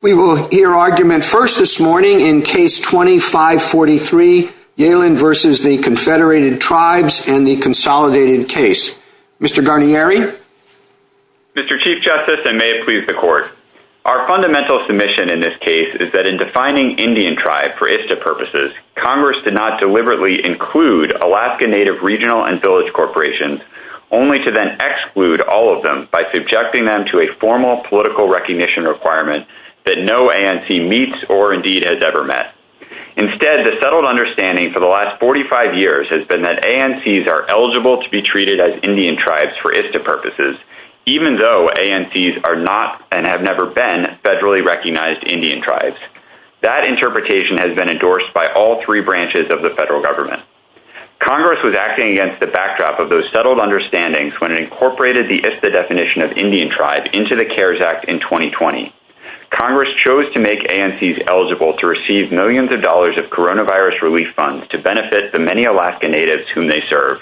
We will hear argument first this morning in Case 2543, Yellen v. the Confederated Tribes and the Consolidated Case. Mr. Garnieri? Mr. Chief Justice, and may it please the Court, our fundamental submission in this case is that in defining Indian Tribe for ISTA purposes, Congress did not deliberately include Alaska Native Regional and Village Corporations, only to then exclude all of them by subjecting them to a formal political recognition requirement that no ANC meets or indeed has ever met. Instead, the settled understanding for the last 45 years has been that ANCs are eligible to be treated as Indian Tribes for ISTA purposes, even though ANCs are not and have never been federally recognized Indian Tribes. That interpretation has been endorsed by all three branches of the federal government. Congress was acting against the backdrop of those settled understandings when it incorporated the ISTA definition of Indian Tribe into the CARES Act in 2020. Congress chose to make ANCs eligible to receive millions of dollars of coronavirus relief funds to benefit the many Alaska Natives whom they serve.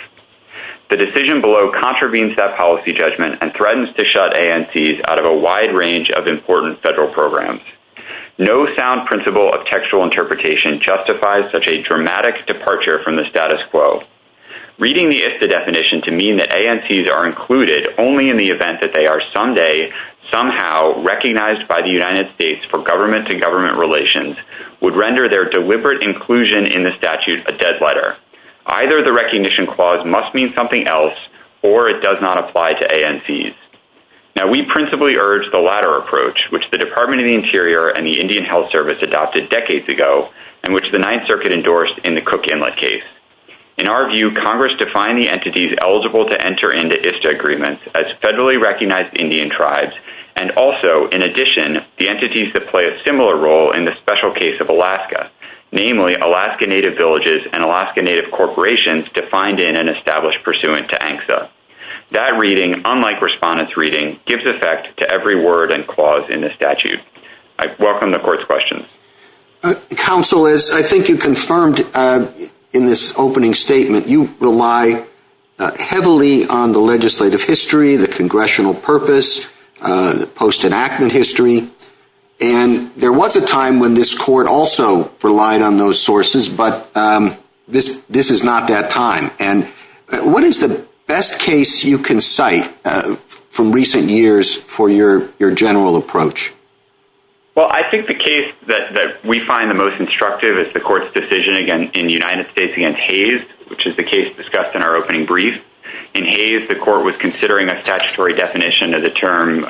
The decision below contravenes that policy judgment and threatens to shut ANCs out of a wide range of important federal programs. No sound principle of textual interpretation justifies such a dramatic departure from the status quo. Reading the ISTA definition to mean that ANCs are included only in the event that they are someday somehow recognized by the United States for government-to-government relations would render their deliberate inclusion in the statute a dead letter. Either the recognition clause must mean something else or it does not apply to ANCs. Now, we principally urge the latter approach, which the Department of the Interior and the Indian Health Service adopted decades ago and which the Ninth Circuit endorsed in the Cook Inlet case. In our view, Congress defined the entities eligible to enter into ISTA agreements as federally recognized Indian Tribes and also, in addition, the entities that play a similar role in the special case of Alaska, namely Alaska Native villages and Alaska Native corporations defined in an established pursuant to ANCSA. That reading, unlike respondents' reading, gives effect to every word and clause in the statute. I welcome the Court's questions. Counsel, as I think you confirmed in this opening statement, you rely heavily on the legislative history, the congressional purpose, the post-enactment history, and there was a time when this Court also relied on those sources, but this is not that time. What is the best case you can cite from recent years for your general approach? Well, I think the case that we find the most instructive is the Court's decision, again, in the United States against Hays, which is the case discussed in our opening brief. In Hays, the Court was considering a statutory definition of the term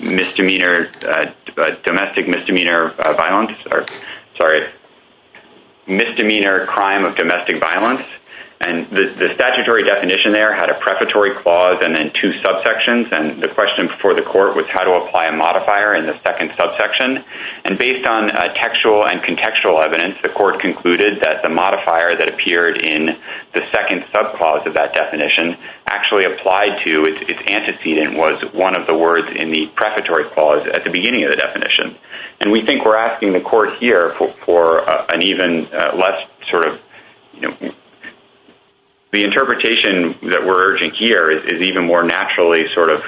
misdemeanor, domestic misdemeanor violence, or, sorry, misdemeanor crime of domestic violence, and the statutory definition there had a prefatory clause and then two subsections, and the question before the Court was how to apply a modifier in the second subsection, and based on textual and contextual evidence, the Court concluded that the modifier that appeared in the second subclause of that definition actually applied to its antecedent, was one of the words in the prefatory clause at the beginning of the definition, and we think we're asking the Court here for an even less sort of, you know, the interpretation that we're urging here is even more naturally sort of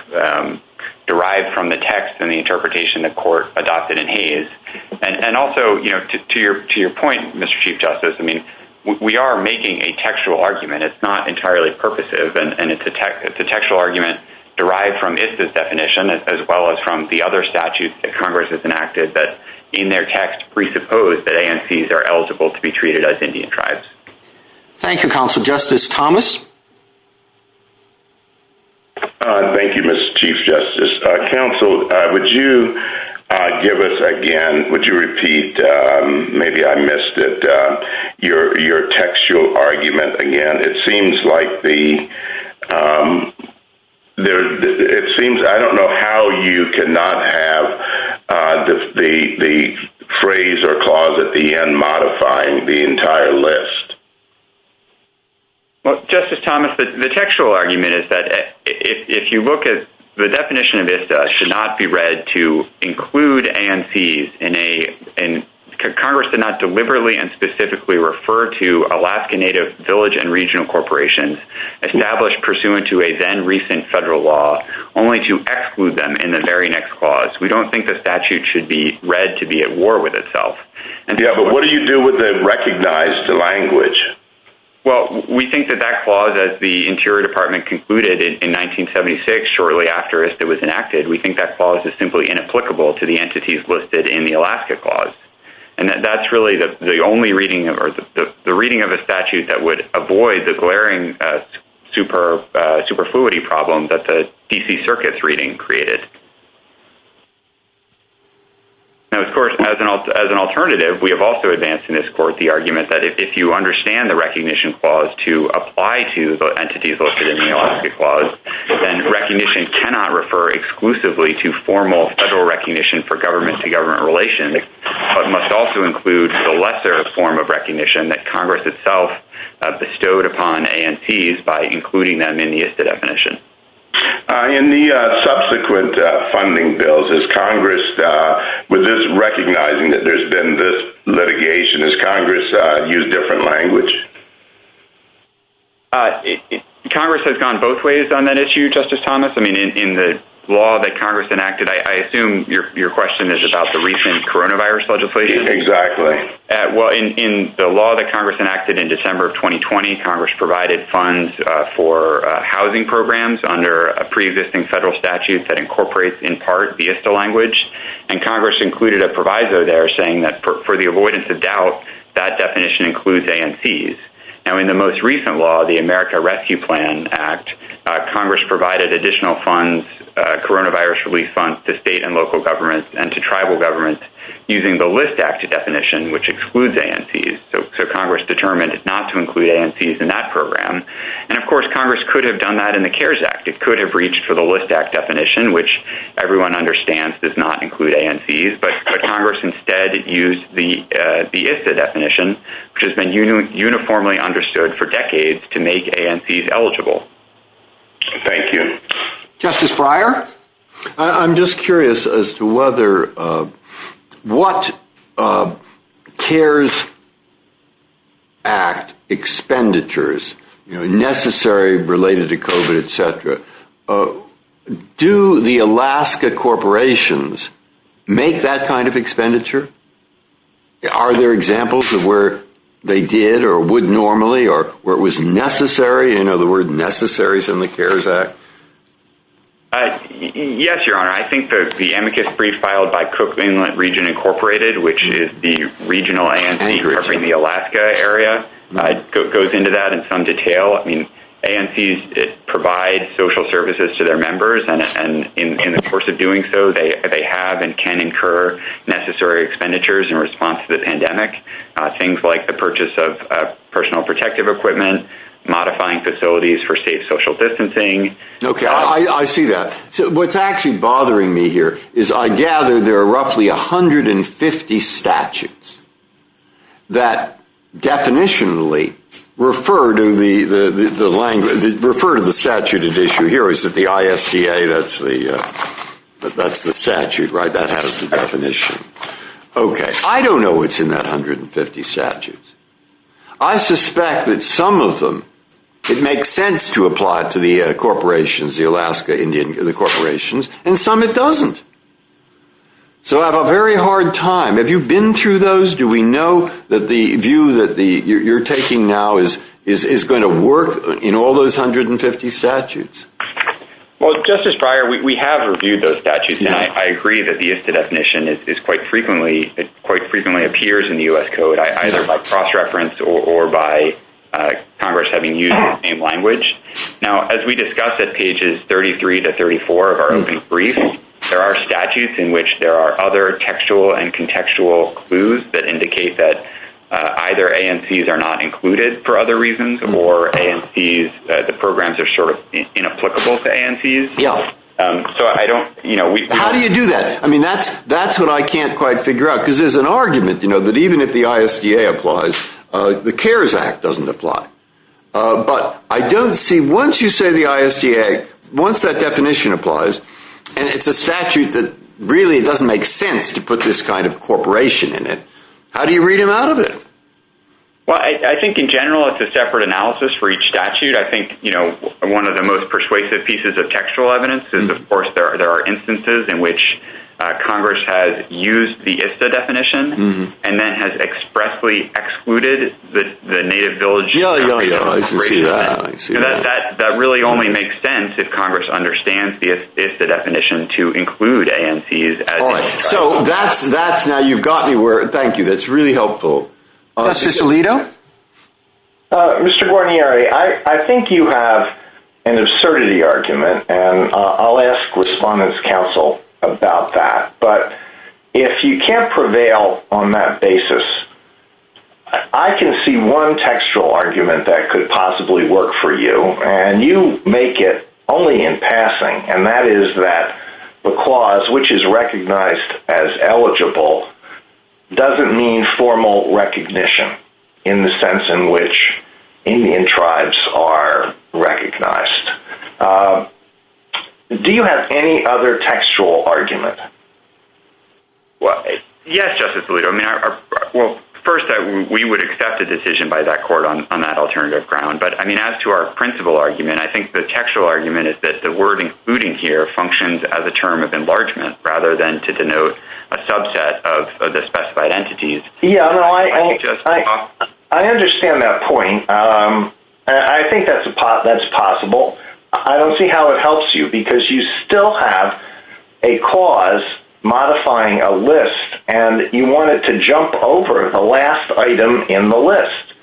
derived from the text and the interpretation the Court adopted in Hays, and also, you know, to your point, Mr. Chief Justice, I mean, we are making a textual argument. It's not entirely purposive, and it's a textual argument derived from ISTA's definition as well as from the other statute that Congress has enacted that in their text presupposed that ANCs are eligible to be treated as Indian tribes. Thank you, Counselor. Justice Thomas? Thank you, Mr. Chief Justice. Counsel, would you give us, again, would you repeat, maybe I missed it, your textual argument again? It seems like the... It seems, I don't know how you cannot have the phrase or clause at the end of the entire list. Well, Justice Thomas, the textual argument is that if you look at the definition of ISTA should not be read to include ANCs in a... Congress did not deliberately and specifically refer to Alaska Native Village and Regional Corporations established pursuant to a then-recent federal law only to exclude them in the very next clause. We don't think the statute should be read to be at war with itself. Yeah, but what do you do with the recognized language? Well, we think that that clause that the Interior Department concluded in 1976, shortly after ISTA was enacted, we think that clause is simply inapplicable to the entities listed in the Alaska clause, and that that's really the only reading or the reading of a statute that would avoid the glaring superfluity problem that the D.C. Circuit's reading created. Now, of course, as an alternative, we have also advanced in this court the argument that if you understand the recognition clause to apply to the entities listed in the Alaska clause, then recognition cannot refer exclusively to formal federal recognition for government to government relation, but must also include the lesser form of recognition that Congress itself bestowed upon ANCs by including them in the ISTA definition. In the subsequent funding bills, is Congress recognizing that there's been this litigation? Has Congress used different language? Congress has gone both ways on that issue, Justice Thomas. I mean, in the law that Congress enacted, I assume your question is about the recent coronavirus legislation? Exactly. Well, in the law that Congress enacted in December of 2020, Congress provided funds for housing programs under a pre-existing federal statute that incorporates in part the ISTA language, and Congress included a proviso there saying that for the avoidance of doubt, that definition includes ANCs. Now, in the most recent law, the America Rescue Plan Act, Congress provided additional funds, coronavirus relief funds, to state and local governments and to tribal governments using the List Act definition, which excludes ANCs, so Congress determined not to include ANCs in that program. And of course, Congress could have done that in the CARES Act. It could have reached for the List Act definition, which everyone understands does not include ANCs, but Congress instead used the ISTA definition, which has been uniformly understood for decades to make ANCs eligible. Thank you. Justice Breyer? I'm just curious as to whether, what CARES Act expenditures, you know, necessary related to COVID, et cetera, do the Alaska corporations make that kind of expenditure? Are there examples of where they did or would normally or where it was necessary, in other words, necessaries in the CARES Act? Yes, Your Honor, I think that the amicus brief filed by Cook Inland Region Incorporated, which is the regional ANC in the Alaska area, goes into that in some detail. I mean, ANCs provide social services to their members, and in the course of doing so, they have and can incur necessary expenditures in response to the pandemic, things like the Okay, I see that. What's actually bothering me here is I gather there are roughly 150 statutes that definitionally refer to the statute of issue here. Is it the ISCA? That's the statute, right? That has the definition. Okay. I don't know what's in that 150 statutes. I suspect that some of them, it makes sense to apply to the corporations, the Alaska Indian corporations, and some it doesn't. So, I have a very hard time. Have you been through those? Do we know that the view that you're taking now is going to work in all those 150 statutes? Well, Justice Breyer, we have reviewed those statutes, and I agree that the ISCA definition is quite frequently, it quite frequently appears in the U.S. Code. Either by cross-reference or by Congress having used the same language. Now, as we discussed at pages 33 to 34 of our brief, there are statutes in which there are other textual and contextual clues that indicate that either ANCs are not included for other reasons, or ANCs, the programs are sort of inapplicable to ANCs. Yeah. So, I don't, you know, we How do you do that? I mean, that's what I can't quite figure out, because there's an argument, you know, that even if the ISCA applies, the CARES Act doesn't apply. But, I don't see, once you say the ISCA, once that definition applies, and it's a statute that really doesn't make sense to put this kind of corporation in it, how do you read him out of it? Well, I think in general it's a separate analysis for each statute. I think, you know, one of the most persuasive pieces of textual evidence is, of course, there are instances in which Congress has used the ISTA definition, and then has expressly excluded the native village. Yeah, yeah, yeah, I can see that. That really only makes sense if Congress understands the ISTA definition to include ANCs. So, that's, now you've got me where, thank you, that's really helpful. Cicillito? Mr. Guarnieri, I think you have an absurdity argument, and I'll ask respondents' counsel about that, but if you can't prevail on that basis, I can see one textual argument that could possibly work for you, and you make it only in passing, and that is that the clause which is recognized as eligible doesn't mean formal recognition in the sense in which Indian tribes are recognized. Do you have any other textual argument? Well, yes, Justice Alito. Well, first, we would accept a decision by that court on that alternative ground, but, I mean, as to our principal argument, I think the textual argument is that the word included here functions as a term of enlargement rather than to denote a subset of the specified entities. Yeah, no, I understand that point, and I think that's possible. I don't see how it helps you, because you still have a clause modifying a list, and you want it to jump over the last item in the list.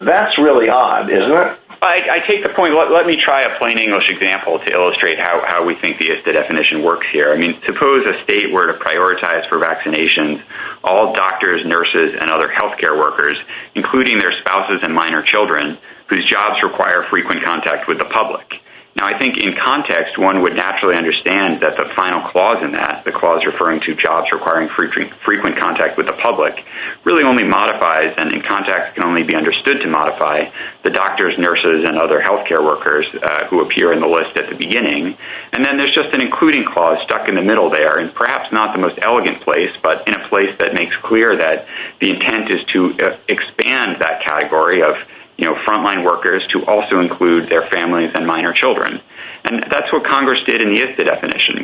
That's really odd, isn't it? I take the point. Let me try a plain English example to illustrate how we think the definition works here. I mean, suppose a state were to prioritize for vaccinations all doctors, nurses, and other health care workers, including their spouses and minor children, whose jobs require frequent contact with the public. Now, I think in context, one would naturally understand that the final clause in that, the clause referring to jobs requiring frequent contact with the public, really only modifies and in context can only be understood to modify the doctors, nurses, and other health care workers who appear in the list at the beginning. And then there's just an including clause stuck in the middle there, and perhaps not the most elegant place, but in a place that makes clear that the intent is to expand that category of, you know, frontline workers to also include their families and minor children. And that's what Congress did in the IFTA definition.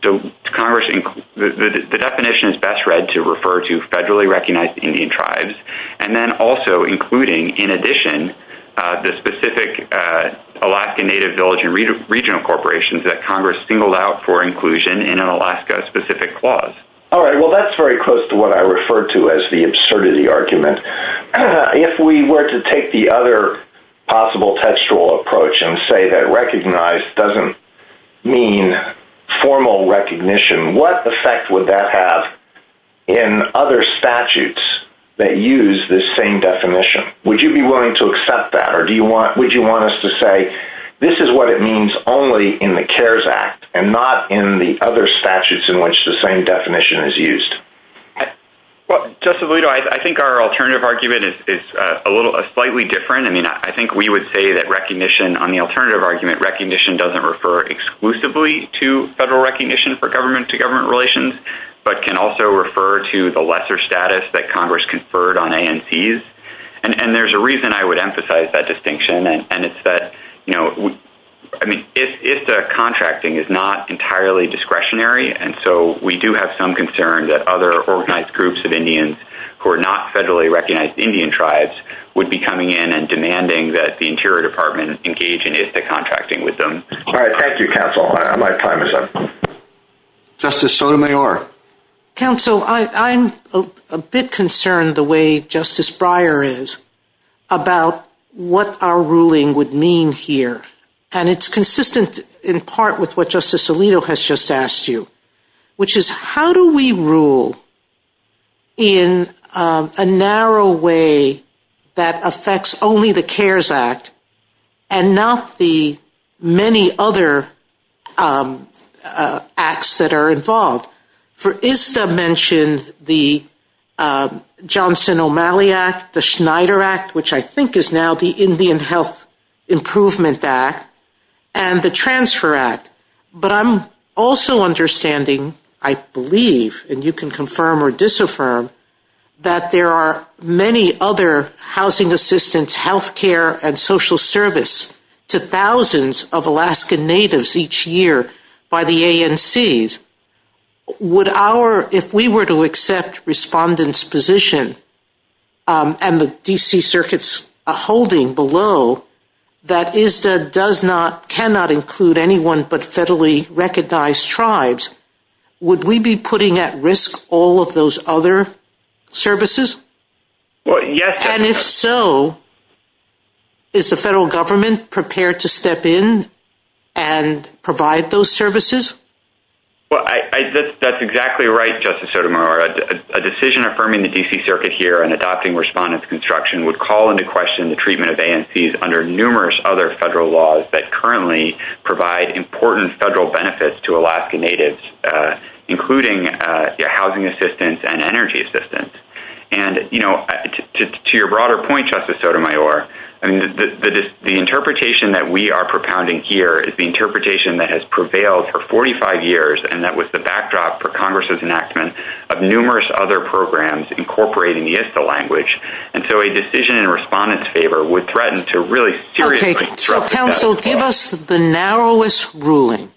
The definition is best read to refer to federally recognized Indian tribes. And then also including, in addition, the specific Alaska Native Village and Regional Corporations that Congress singled out for inclusion in an Alaska-specific clause. All right. Well, that's very close to what I referred to as the absurdity argument. If we were to take the other possible textual approach and say that recognize doesn't mean formal recognition, what effect would that have in other statutes that use this same definition? Would you be willing to accept that, or would you want us to say this is what it means only in the CARES Act and not in the other statutes in which the same definition is used? Well, Justice Alito, I think our alternative argument is slightly different. I mean, I think we would say that recognition on the alternative argument, recognition doesn't refer exclusively to federal recognition for government-to-government relations, but can also refer to the lesser status that Congress conferred on ANCs. And there's a reason I would emphasize that distinction, and it's that, you know, I mean, IFTA contracting is not entirely discretionary, and so we do have some concern that other organized groups of Indians who are not federally recognized Indian tribes would be coming in and demanding that the Interior Department engage in IFTA contracting with them. All right. Thank you, Counsel. My time is up. Justice Sotomayor. Counsel, I'm a bit concerned the way Justice Breyer is about what our ruling would mean here, and it's consistent in part with what Justice Alito has just asked you, which is how do we rule in a narrow way that affects only the CARES Act and not the many other acts that are involved? For ISTA mentioned the Johnson O'Malley Act, the Schneider Act, which I think is now the I believe, and you can confirm or disaffirm, that there are many other housing assistance, health care, and social service to thousands of Alaskan Natives each year by the ANCs. Would our, if we were to accept respondents' position and the D.C. Circuit's holding below that ISTA does not, cannot include anyone but federally recognized tribes, would we be putting at risk all of those other services? Well, yes. And if so, is the federal government prepared to step in and provide those services? Well, that's exactly right, Justice Sotomayor. A decision affirming the D.C. Circuit here and adopting respondents' construction would call into question the treatment of ANCs under numerous other federal laws that currently provide important federal benefits to Alaska Natives, including housing assistance and energy assistance. And to your broader point, Justice Sotomayor, the interpretation that we are propounding here is the interpretation that has prevailed for 45 years and that was the backdrop for Congress' enactment of numerous other programs incorporating the ISTA language. And so a decision in respondents' favor would threaten to really seriously disrupt the federal law. Okay. So, counsel, give us the narrowest ruling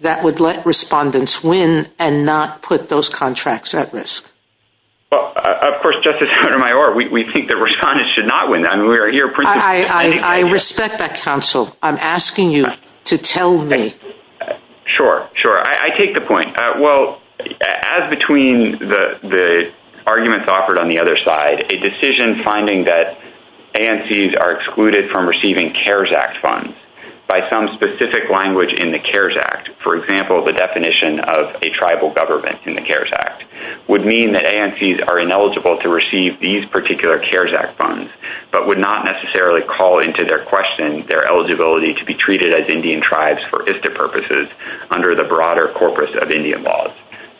that would let respondents win and not put those contracts at risk. Well, of course, Justice Sotomayor, we think that respondents should not win. I mean, we are here... I respect that, counsel. I'm asking you to tell me. Sure. Sure. I take the point. Well, as between the arguments offered on the other side, a decision finding that ANCs are excluded from receiving CARES Act funds by some specific language in the CARES Act, for example, the definition of a tribal government in the CARES Act, would mean that ANCs are ineligible to receive these particular CARES Act funds but would not necessarily call into their question their eligibility to be treated as Indian tribes for ISTA purposes under the Indian laws.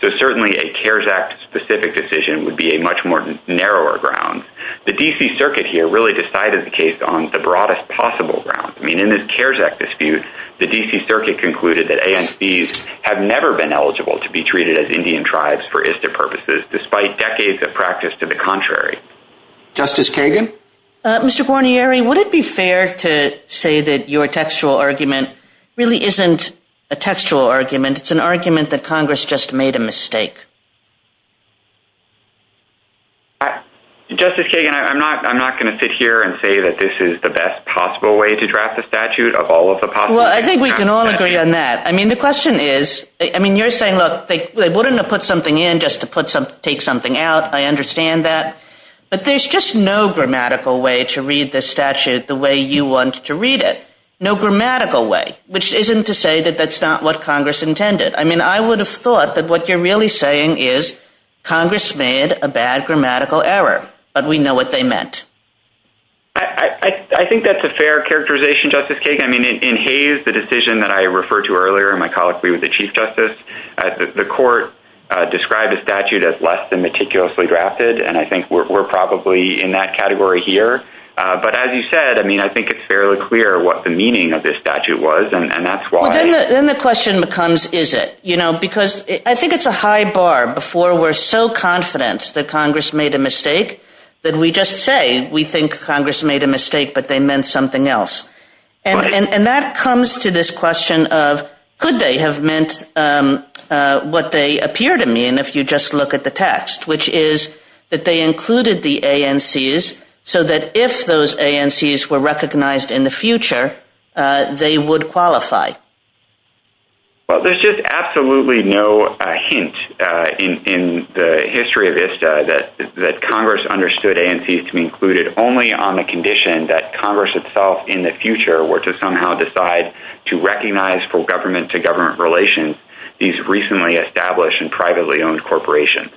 So certainly a CARES Act-specific decision would be a much more narrower ground. The D.C. Circuit here really decided the case on the broadest possible ground. I mean, in this CARES Act dispute, the D.C. Circuit concluded that ANCs have never been eligible to be treated as Indian tribes for ISTA purposes despite decades of practice to the contrary. Justice Kagan? Mr. Guarnieri, would it be fair to say that your textual argument really isn't a textual argument? It's an argument that Congress just made a mistake. Justice Kagan, I'm not going to sit here and say that this is the best possible way to draft the statute of all of the possible… Well, I think we can all agree on that. I mean, the question is… I mean, you're saying, look, they wouldn't have put something in just to take something out. I understand that. But there's just no grammatical way to read this statute the way you want to read it. No grammatical way, which isn't to say that that's not what Congress intended. I mean, I would have thought that what you're really saying is Congress made a bad grammatical error, but we know what they meant. I think that's a fair characterization, Justice Kagan. I mean, in Hays, the decision that I referred to earlier in my colloquy with the Chief Justice, the court described the statute as less than meticulously drafted, and I think we're probably in that category here. But as you said, I mean, I think it's fairly clear what the meaning of this statute was, and that's why… Then the question becomes, is it? You know, because I think it's a high bar. Before, we're so confident that Congress made a mistake that we just say we think Congress made a mistake, but they meant something else. And that comes to this question of could they have meant what they appear to mean if you just look at the text, which is that they included the ANCs so that if those ANCs were recognized in the future, they would qualify. Well, there's just absolutely no hint in the history of ISTA that Congress understood ANCs to be included only on the condition that Congress itself in the future were to somehow decide to recognize for government-to-government relations these recently established and established corporations.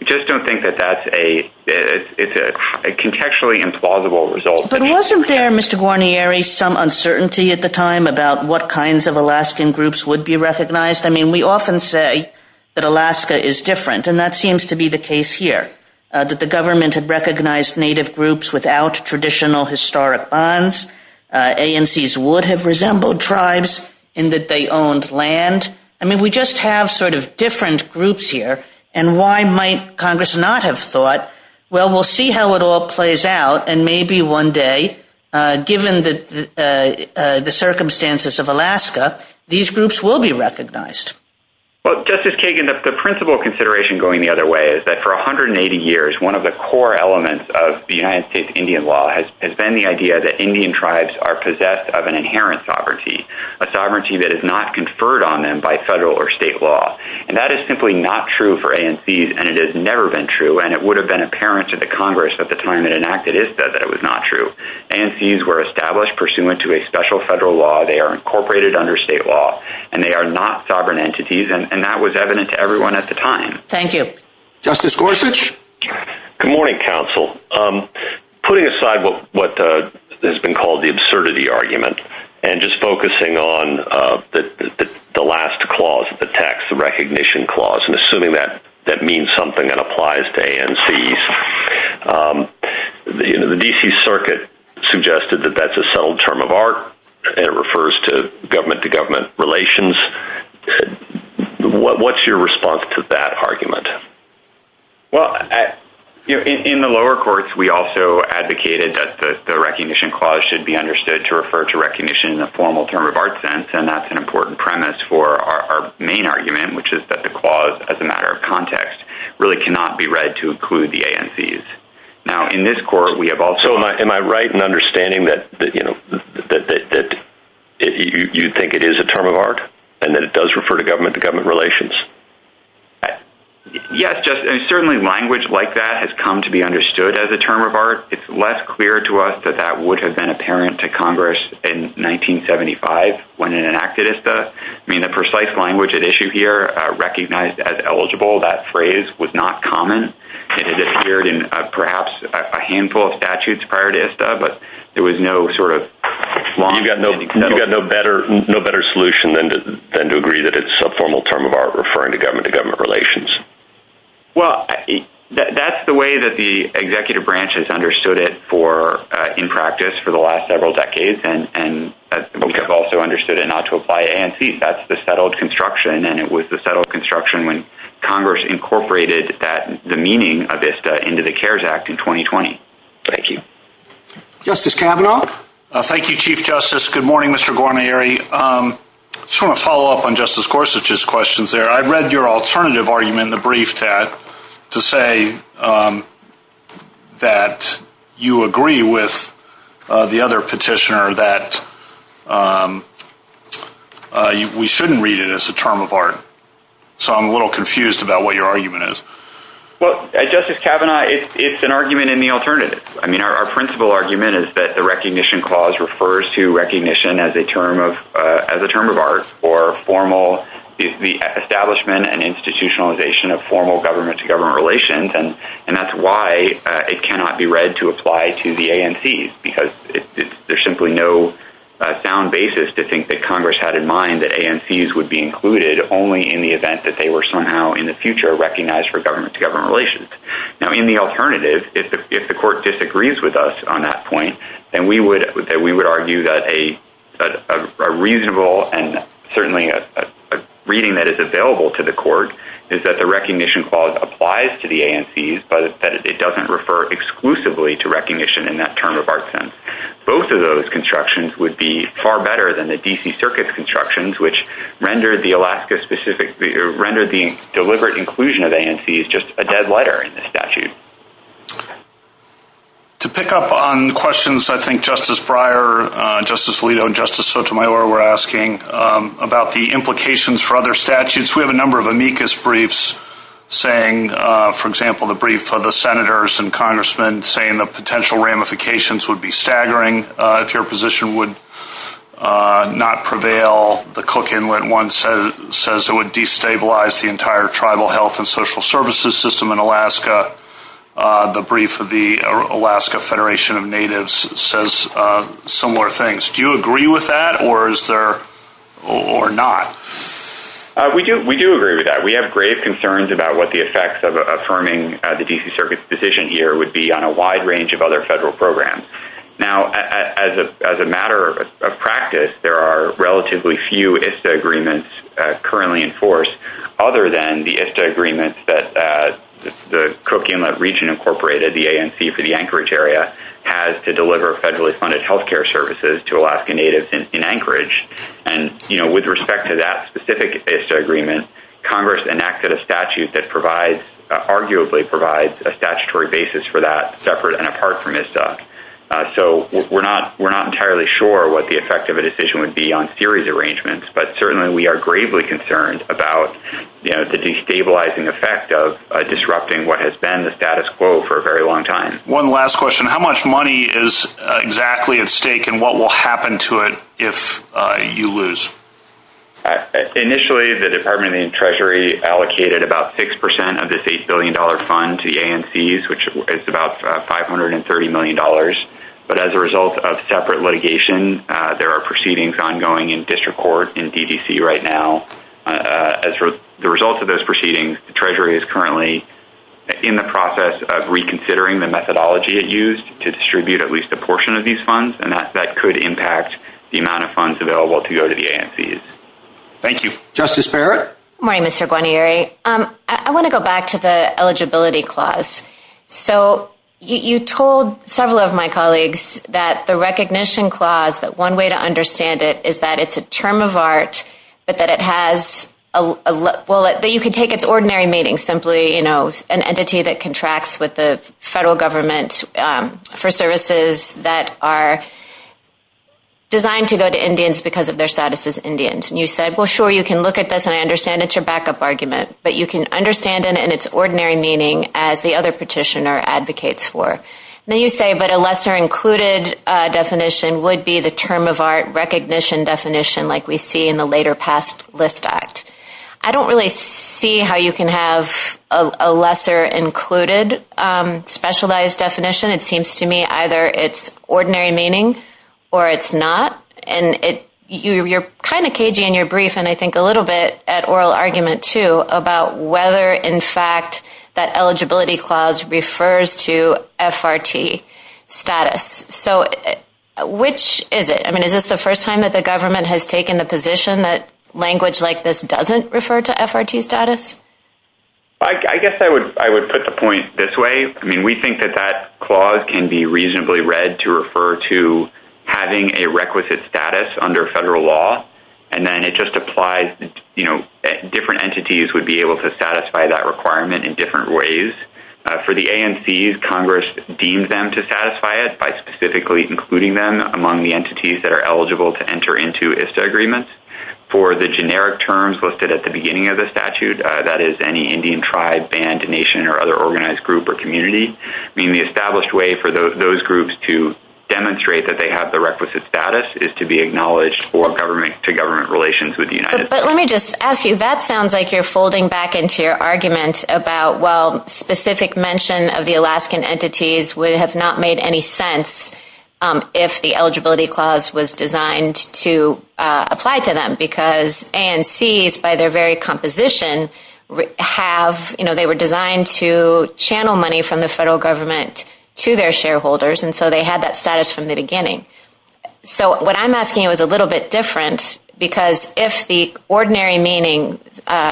I just don't think that that's a… It's a contextually implausible result. But wasn't there, Mr. Guarnieri, some uncertainty at the time about what kinds of Alaskan groups would be recognized? I mean, we often say that Alaska is different, and that seems to be the case here, that the government had recognized Native groups without traditional historic bonds. ANCs would have resembled tribes in that they owned land. I mean, we just have sort of different groups here. And why might Congress not have thought, well, we'll see how it all plays out, and maybe one day, given the circumstances of Alaska, these groups will be recognized? Well, Justice Kagan, the principle consideration going the other way is that for 180 years, one of the core elements of the United States Indian law has been the idea that Indian tribes are possessed of an inherent sovereignty, a sovereignty that is not conferred on them by federal or state law. And that is simply not true for ANCs, and it has never been true, and it would have been apparent to the Congress at the time it enacted ISTA that it was not true. ANCs were established pursuant to a special federal law. They are incorporated under state law, and they are not sovereign entities, and that was evident to everyone at the time. Thank you. Justice Gorsuch? Good morning, counsel. Putting aside what has been called the absurdity argument, and just focusing on the last clause of the text, the recognition clause, and assuming that that means something and applies to ANCs, the D.C. Circuit suggested that that's a subtle term of art, and it refers to government-to-government relations. What's your response to that argument? Well, in the lower courts, we also advocated that the recognition clause should be understood to refer to recognition in a formal term of art sense, and that's an important premise for our main argument, which is that the clause, as a matter of context, really cannot be read to include the ANCs. Now, in this court, we have also— So am I right in understanding that you think it is a term of art, and that it does refer to government-to-government relations? Yes, Justice, and certainly language like that has come to be understood as a term of art. It's less clear to us that that would have been apparent to Congress in 1975 when it enacted ISTA. I mean, the precise language at issue here, recognized as eligible, that phrase was not common. It had appeared in perhaps a handful of statutes prior to ISTA, but there was no sort of long and detailed— You've got no better solution than to agree that it's a formal term of art referring to government-to-government relations. Well, that's the way that the executive branches understood it in practice for the last several decades, and we have also understood it not to apply to ANCs. That's the settled construction, and it was the settled construction when Congress incorporated the meaning of ISTA into the CARES Act in 2020. Thank you. Justice Kavanaugh? Thank you, Chief Justice. Good morning, Mr. Guarnieri. I just want to follow up on Justice Gorsuch's questions there. I read your alternative argument in the brief, Tad, to say that you agree with the other petitioner that we shouldn't read it as a term of art. So I'm a little confused about what your argument is. Well, Justice Kavanaugh, it's an argument in the alternative. I mean, our principal argument is that the recognition clause refers to recognition as a term of art or formal—the establishment and institutionalization of formal government-to-government relations, and that's why it cannot be read to apply to the ANCs because there's simply no sound basis to think that Congress had in mind that ANCs would be included only in the event that they were somehow in the future recognized for government-to-government relations. Now, in the alternative, if the court disagrees with us on that point, then we would argue that a reasonable and certainly a reading that is available to the court is that the recognition clause applies to the ANCs, but that it doesn't refer exclusively to recognition in that term of art sense. Both of those constructions would be far better than the D.C. Circuit's constructions, which To pick up on questions I think Justice Breyer, Justice Alito, and Justice Sotomayor were asking about the implications for other statutes, we have a number of amicus briefs saying, for example, the brief of the senators and congressmen saying the potential ramifications would be staggering if your position would not prevail. The Cook Inlet one says it would destabilize the entire tribal health and social services system in Alaska. The brief of the Alaska Federation of Natives says similar things. Do you agree with that or not? We do agree with that. We have grave concerns about what the effects of affirming the D.C. Circuit's position here would be on a wide range of other federal programs. Now, as a matter of practice, there are relatively few ISTA agreements currently in force other than the ISTA agreement that the Cook Inlet Region Incorporated, the ANC for the Anchorage area, has to deliver federally funded health care services to Alaska Natives in Anchorage. With respect to that specific ISTA agreement, Congress enacted a statute that arguably provides a statutory basis for that separate and apart from ISTA. So we're not entirely sure what the effect of a decision would be on series arrangements, but certainly we are gravely concerned about the destabilizing effect of disrupting what has been the status quo for a very long time. One last question. How much money is exactly at stake and what will happen to it if you lose? Initially, the Department of Treasury allocated about 6% of this $8 billion fund to the ANCs, which is about $530 million. But as a result of separate litigation, there are proceedings ongoing in district court in DDC right now. As a result of those proceedings, the Treasury is currently in the process of reconsidering the methodology it used to distribute at least a portion of these funds, and that could impact the amount of funds available to go to the ANCs. Thank you. Justice Barrett? Good morning, Mr. Guarnieri. I want to go back to the eligibility clause. So you told several of my colleagues that the recognition clause, that one way to understand it is that it's a term of art, but that it has a – well, that you can take its ordinary meaning simply, you know, an entity that contracts with the federal government for services that are designed to go to Indians because of their status as Indians. And you said, well, sure, you can look at this and I understand it's your backup argument, but you can understand it in its ordinary meaning as the other petitioner advocates for. And then you say, but a lesser included definition would be the term of art recognition definition like we see in the Later Past List Act. I don't really see how you can have a lesser included specialized definition. It seems to me either it's ordinary meaning or it's not, and you're kind of cagey in your little bit at oral argument too about whether in fact that eligibility clause refers to FRT status. So which is it? I mean, is this the first time that the government has taken the position that language like this doesn't refer to FRT status? I guess I would put the point this way. I mean, we think that that clause can be reasonably read to refer to having a requisite status under federal law, and then it just applies, you know, different entities would be able to satisfy that requirement in different ways. For the ANCs, Congress deems them to satisfy it by specifically including them among the entities that are eligible to enter into ISTA agreements. For the generic terms listed at the beginning of the statute, that is any Indian tribe, band, nation, or other organized group or community. I mean, the established way for those groups to demonstrate that they have the requisite status is to be acknowledged for government-to-government relations with the United States. But let me just ask you, that sounds like you're folding back into your argument about, well, specific mention of the Alaskan entities would have not made any sense if the eligibility clause was designed to apply to them because ANCs by their very composition have, you know, they were designed to channel money from the federal government to their shareholders, and so they had that status from the beginning. So what I'm asking you is a little bit different because if the ordinary meaning,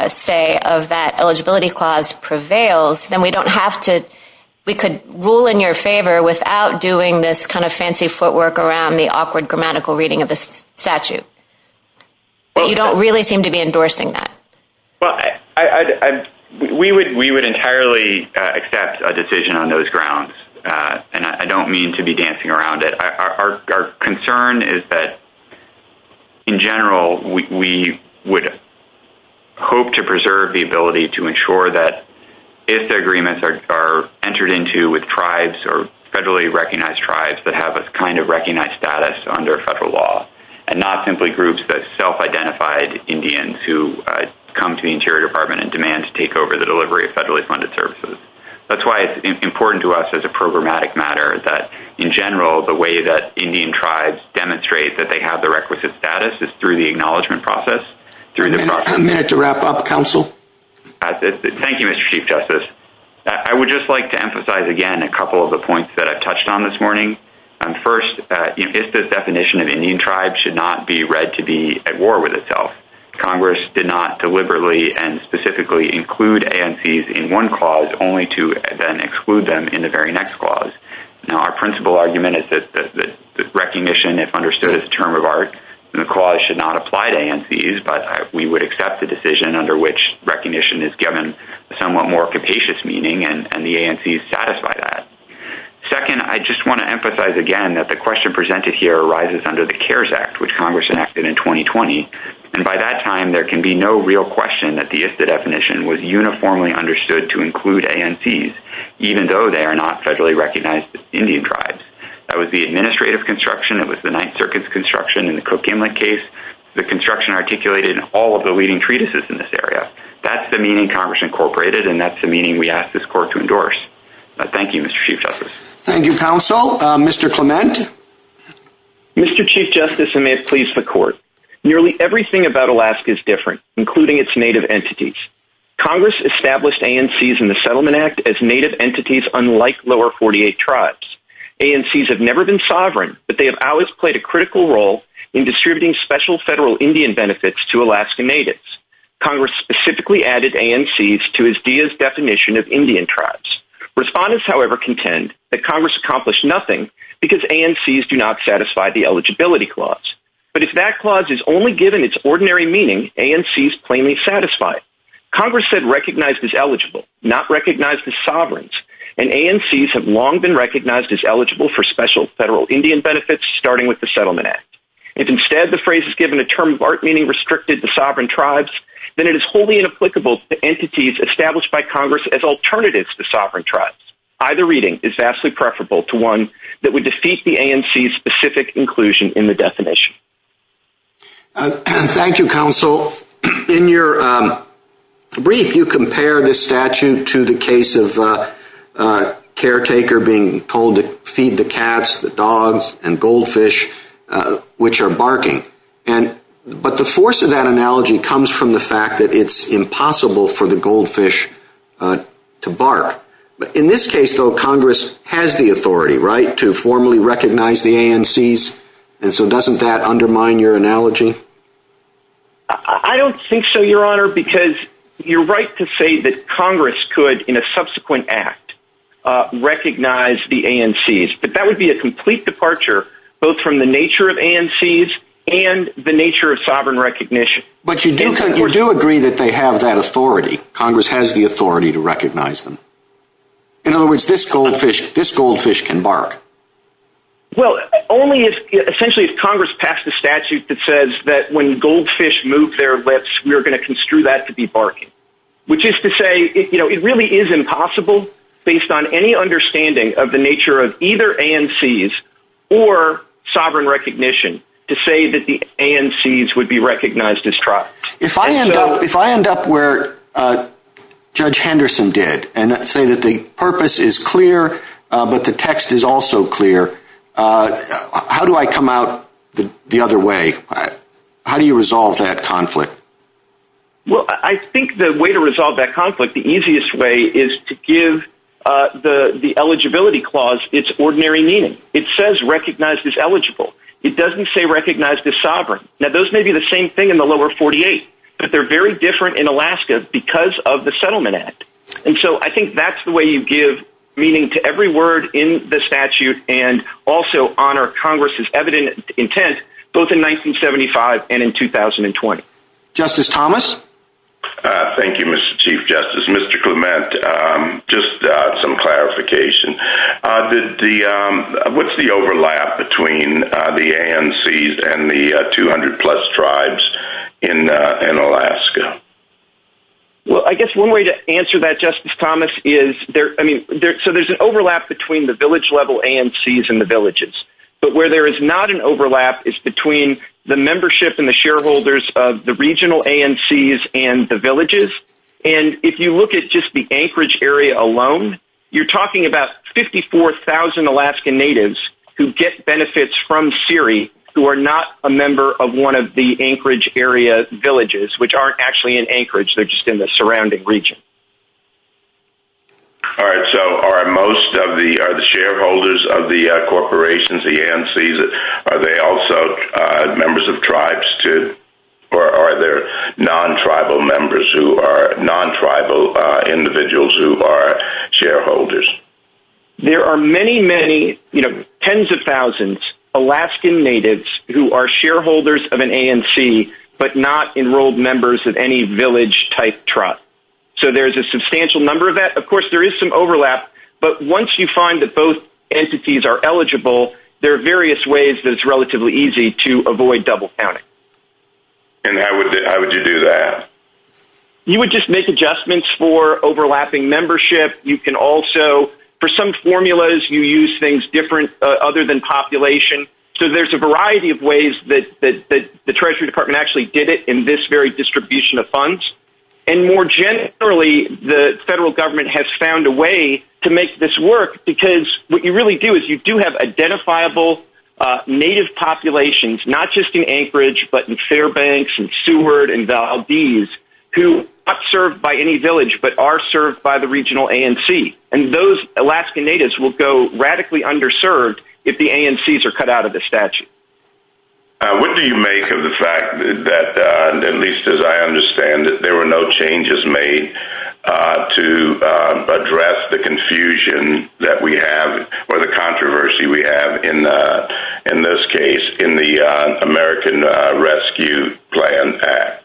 say, of that eligibility clause prevails, then we don't have to – we could rule in your favor without doing this kind of fancy footwork around the awkward grammatical reading of the statute. You don't really seem to be endorsing that. Well, we would entirely accept a decision on those grounds, and I don't mean to be dancing around it. Our concern is that, in general, we would hope to preserve the ability to ensure that if the agreements are entered into with tribes or federally recognized tribes that have a kind of recognized status under federal law and not simply groups that self-identified Indians who come to the Interior Department and demand to take over the delivery of federally funded services. That's why it's important to us as a programmatic matter that, in general, the way that Indian tribes demonstrate that they have the requisite status is through the acknowledgement process. Do you have a minute to wrap up, Counsel? Thank you, Mr. Chief Justice. I would just like to emphasize again a couple of the points that I touched on this morning. First, if this definition of Indian tribe should not be read to be at war with itself, Congress did not deliberately and specifically include ANCs in one clause only to, again, exclude them in the very next clause. Now, our principal argument is that recognition, if understood as a term of art in the clause, should not apply to ANCs, but we would accept the decision under which recognition is given somewhat more capacious meaning, and the ANCs satisfy that. Second, I just want to emphasize again that the question presented here arises under the CARES Act, which Congress enacted in 2020. And by that time, there can be no real question that the IFTA definition was uniformly understood to include ANCs, even though they are not federally recognized Indian tribes. That was the administrative construction. It was the Ninth Circuit's construction in the Cook Inlet case. The construction articulated in all of the leading treatises in this area. That's the meaning Congress incorporated, and that's the meaning we ask this Court to endorse. Thank you, Mr. Chief Justice. Thank you, Counsel. Mr. Clement? Mr. Chief Justice, and may it please the Court, nearly everything about Alaska is different, including its Native entities. Congress established ANCs in the Settlement Act as Native entities, unlike lower 48 tribes. ANCs have never been sovereign, but they have always played a critical role in distributing special federal Indian benefits to Alaska Natives. Congress specifically added ANCs to USDA's definition of Indian tribes. Respondents, however, contend that Congress accomplished nothing because ANCs do not satisfy the eligibility clause. But if that clause is only given its ordinary meaning, ANCs plainly satisfy it. Congress said recognized as eligible, not recognized as sovereigns, and ANCs have long been recognized as eligible for special federal Indian benefits, starting with the Settlement Act. If instead the phrase is given a term of art meaning restricted to sovereign tribes, then it is wholly inapplicable to entities established by Congress as alternatives to sovereign tribes. Either reading is vastly preferable to one that would defeat the ANCs' specific inclusion in the definition. Thank you, Counsel. In your brief, you compare the statute to the case of a caretaker being told to feed the cats, the dogs, and goldfish, which are barking. But the force of that analogy comes from the fact that it's impossible for the goldfish to bark. But in this case, though, Congress has the authority, right, to formally recognize the ANCs, and so doesn't that undermine your analogy? I don't think so, Your Honor, because you're right to say that Congress could, in a subsequent act, recognize the ANCs, but that would be a complete departure both from the nature of ANCs and the nature of sovereign recognition. But you do agree that they have that authority. Congress has the authority to recognize them. In other words, this goldfish can bark. Well, only essentially if Congress passed a statute that says that when goldfish move their lips, we are going to construe that to be barking, which is to say it really is impossible, based on any understanding of the nature of either ANCs or sovereign recognition, to say that the ANCs would be recognized as trapped. If I end up where Judge Henderson did and say that the purpose is clear, but the text is also clear, how do I come out the other way? How do you resolve that conflict? Well, I think the way to resolve that conflict, the easiest way, is to give the eligibility clause its ordinary meaning. It says recognized as eligible. It doesn't say recognized as sovereign. Now, those may be the same thing in the lower 48, but they're very different in Alaska because of the Settlement Act. And so I think that's the way you give meaning to every word in the statute and also honor Congress's evident intent both in 1975 and in 2020. Justice Thomas? Thank you, Mr. Chief Justice. Mr. Clement, just some clarification. What's the overlap between the ANCs and the 200-plus tribes in Alaska? Well, I guess one way to answer that, Justice Thomas, is there's an overlap between the village-level ANCs and the villages. But where there is not an overlap is between the membership and the shareholders of the regional ANCs and the villages. And if you look at just the Anchorage area alone, you're talking about 54,000 Alaskan Natives who get benefits from CERI who are not a member of one of the Anchorage-area villages, which aren't actually in Anchorage. They're just in the surrounding region. All right, so are most of the shareholders of the corporations, the ANCs, are they also members of tribes, too? Or are there non-tribal members who are non-tribal individuals who are shareholders? There are many, many, tens of thousands, Alaskan Natives who are shareholders of an ANC but not enrolled members of any village-type tribe. So there's a substantial number of that. Of course, there is some overlap. But once you find that both entities are eligible, there are various ways that it's relatively easy to avoid double-counting. And how would you do that? You would just make adjustments for overlapping membership. You can also, for some formulas, you use things different other than population. So there's a variety of ways that the Treasury Department actually did it in this very distribution of funds. And more generally, the federal government has found a way to make this work because what you really do is you do have identifiable Native populations, not just in Anchorage but in Fairbanks and Seward and Valdez, who are not served by any village but are served by the regional ANC. And those Alaskan Natives will go radically underserved if the ANCs are cut out of the statute. What do you make of the fact that, at least as I understand it, there were no changes made to address the confusion that we have or the controversy we have in this case in the American Rescue Plan Act?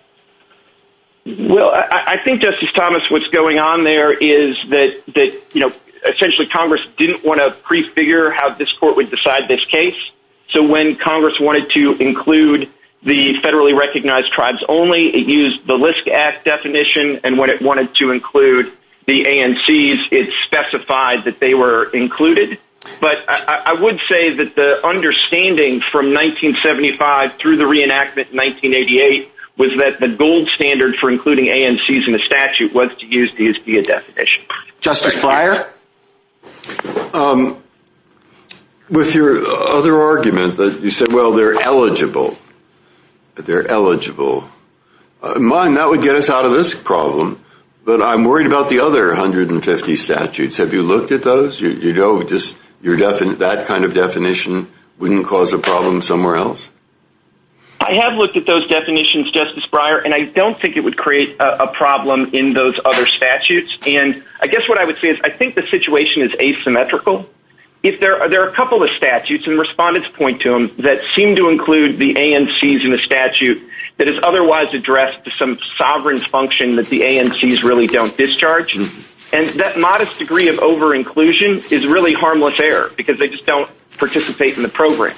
Well, I think, Justice Thomas, what's going on there is that essentially Congress didn't want to prefigure how this court would decide this case. So when Congress wanted to include the federally recognized tribes only, it used the LISC Act definition. And when it wanted to include the ANCs, it specified that they were included. But I would say that the understanding from 1975 through the reenactment in 1988 was that the gold standard for including ANCs in the statute was to use the USDA definition. Justice Breyer? With your other argument, you said, well, they're eligible. They're eligible. Mine, that would get us out of this problem. But I'm worried about the other 150 statutes. Have you looked at those? That kind of definition wouldn't cause a problem somewhere else? I have looked at those definitions, Justice Breyer. And I don't think it would create a problem in those other statutes. And I guess what I would say is I think the situation is asymmetrical. There are a couple of statutes, and respondents point to them, that seem to include the ANCs in the statute that is otherwise addressed to some sovereign's function that the ANCs really don't discharge. And that modest degree of over-inclusion is really harmless error because they just don't participate in the program.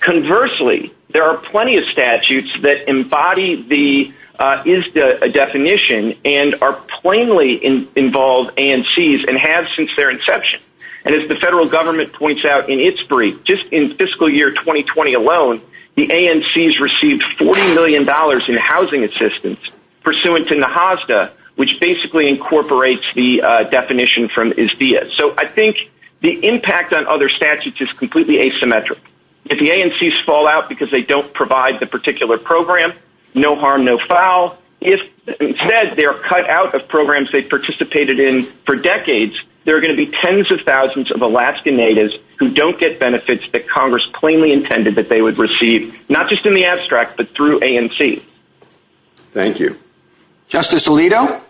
Conversely, there are plenty of statutes that embody the ISDA definition and are plainly involved ANCs and have since their inception. And as the federal government points out in its brief, just in fiscal year 2020 alone, the ANCs received $40 million in housing assistance pursuant to the HOSDA, which basically incorporates the definition from ISDIA. So I think the impact on other statutes is completely asymmetric. If the ANCs fall out because they don't provide the particular program, no harm, no foul. If instead they are cut out of programs they participated in for decades, there are going to be tens of thousands of Alaskan natives who don't get benefits that Congress plainly intended that they would receive, not just in the abstract, but through ANC. Thank you. Justice Alito?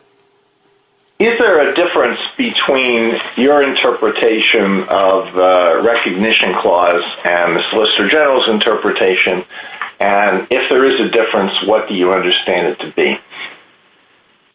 Is there a difference between your interpretation of the Recognition Clause and the Solicitor General's interpretation? And if there is a difference, what do you understand it to be?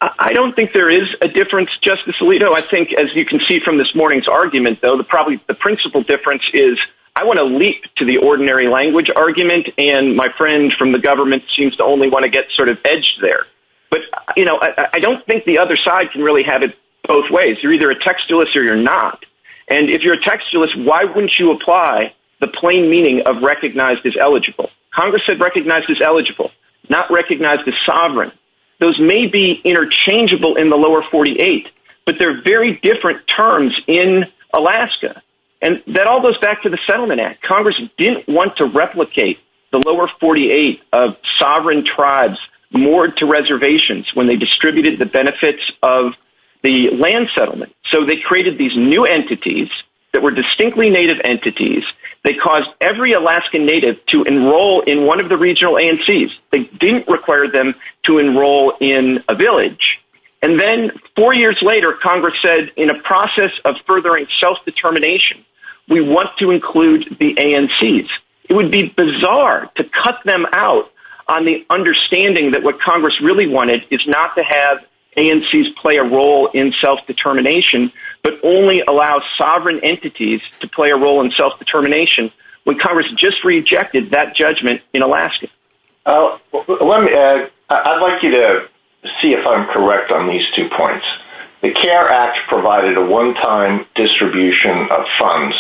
I don't think there is a difference, Justice Alito. I think, as you can see from this morning's argument, though, the principle difference is I want to leap to the ordinary language argument, and my friend from the government seems to only want to get sort of edged there. But, you know, I don't think the other side can really have it both ways. You're either a textualist or you're not. And if you're a textualist, why wouldn't you apply the plain meaning of recognized as eligible? Congress said recognized as eligible, not recognized as sovereign. Those may be interchangeable in the lower 48, but they're very different terms in Alaska. And that all goes back to the Settlement Act. Congress didn't want to replicate the lower 48 of sovereign tribes moored to reservations when they distributed the benefits of the land settlement. So they created these new entities that were distinctly Native entities. They caused every Alaskan Native to enroll in one of the regional ANCs. They didn't require them to enroll in a village. And then four years later, Congress said, in a process of furthering self-determination, we want to include the ANCs. It would be bizarre to cut them out on the understanding that what Congress really wanted is not to have ANCs play a role in self-determination, but only allow sovereign entities to play a role in self-determination when Congress just rejected that judgment in Alaska. Let me add, I'd like you to see if I'm correct on these two points. The CARE Act provided a one-time distribution of funds.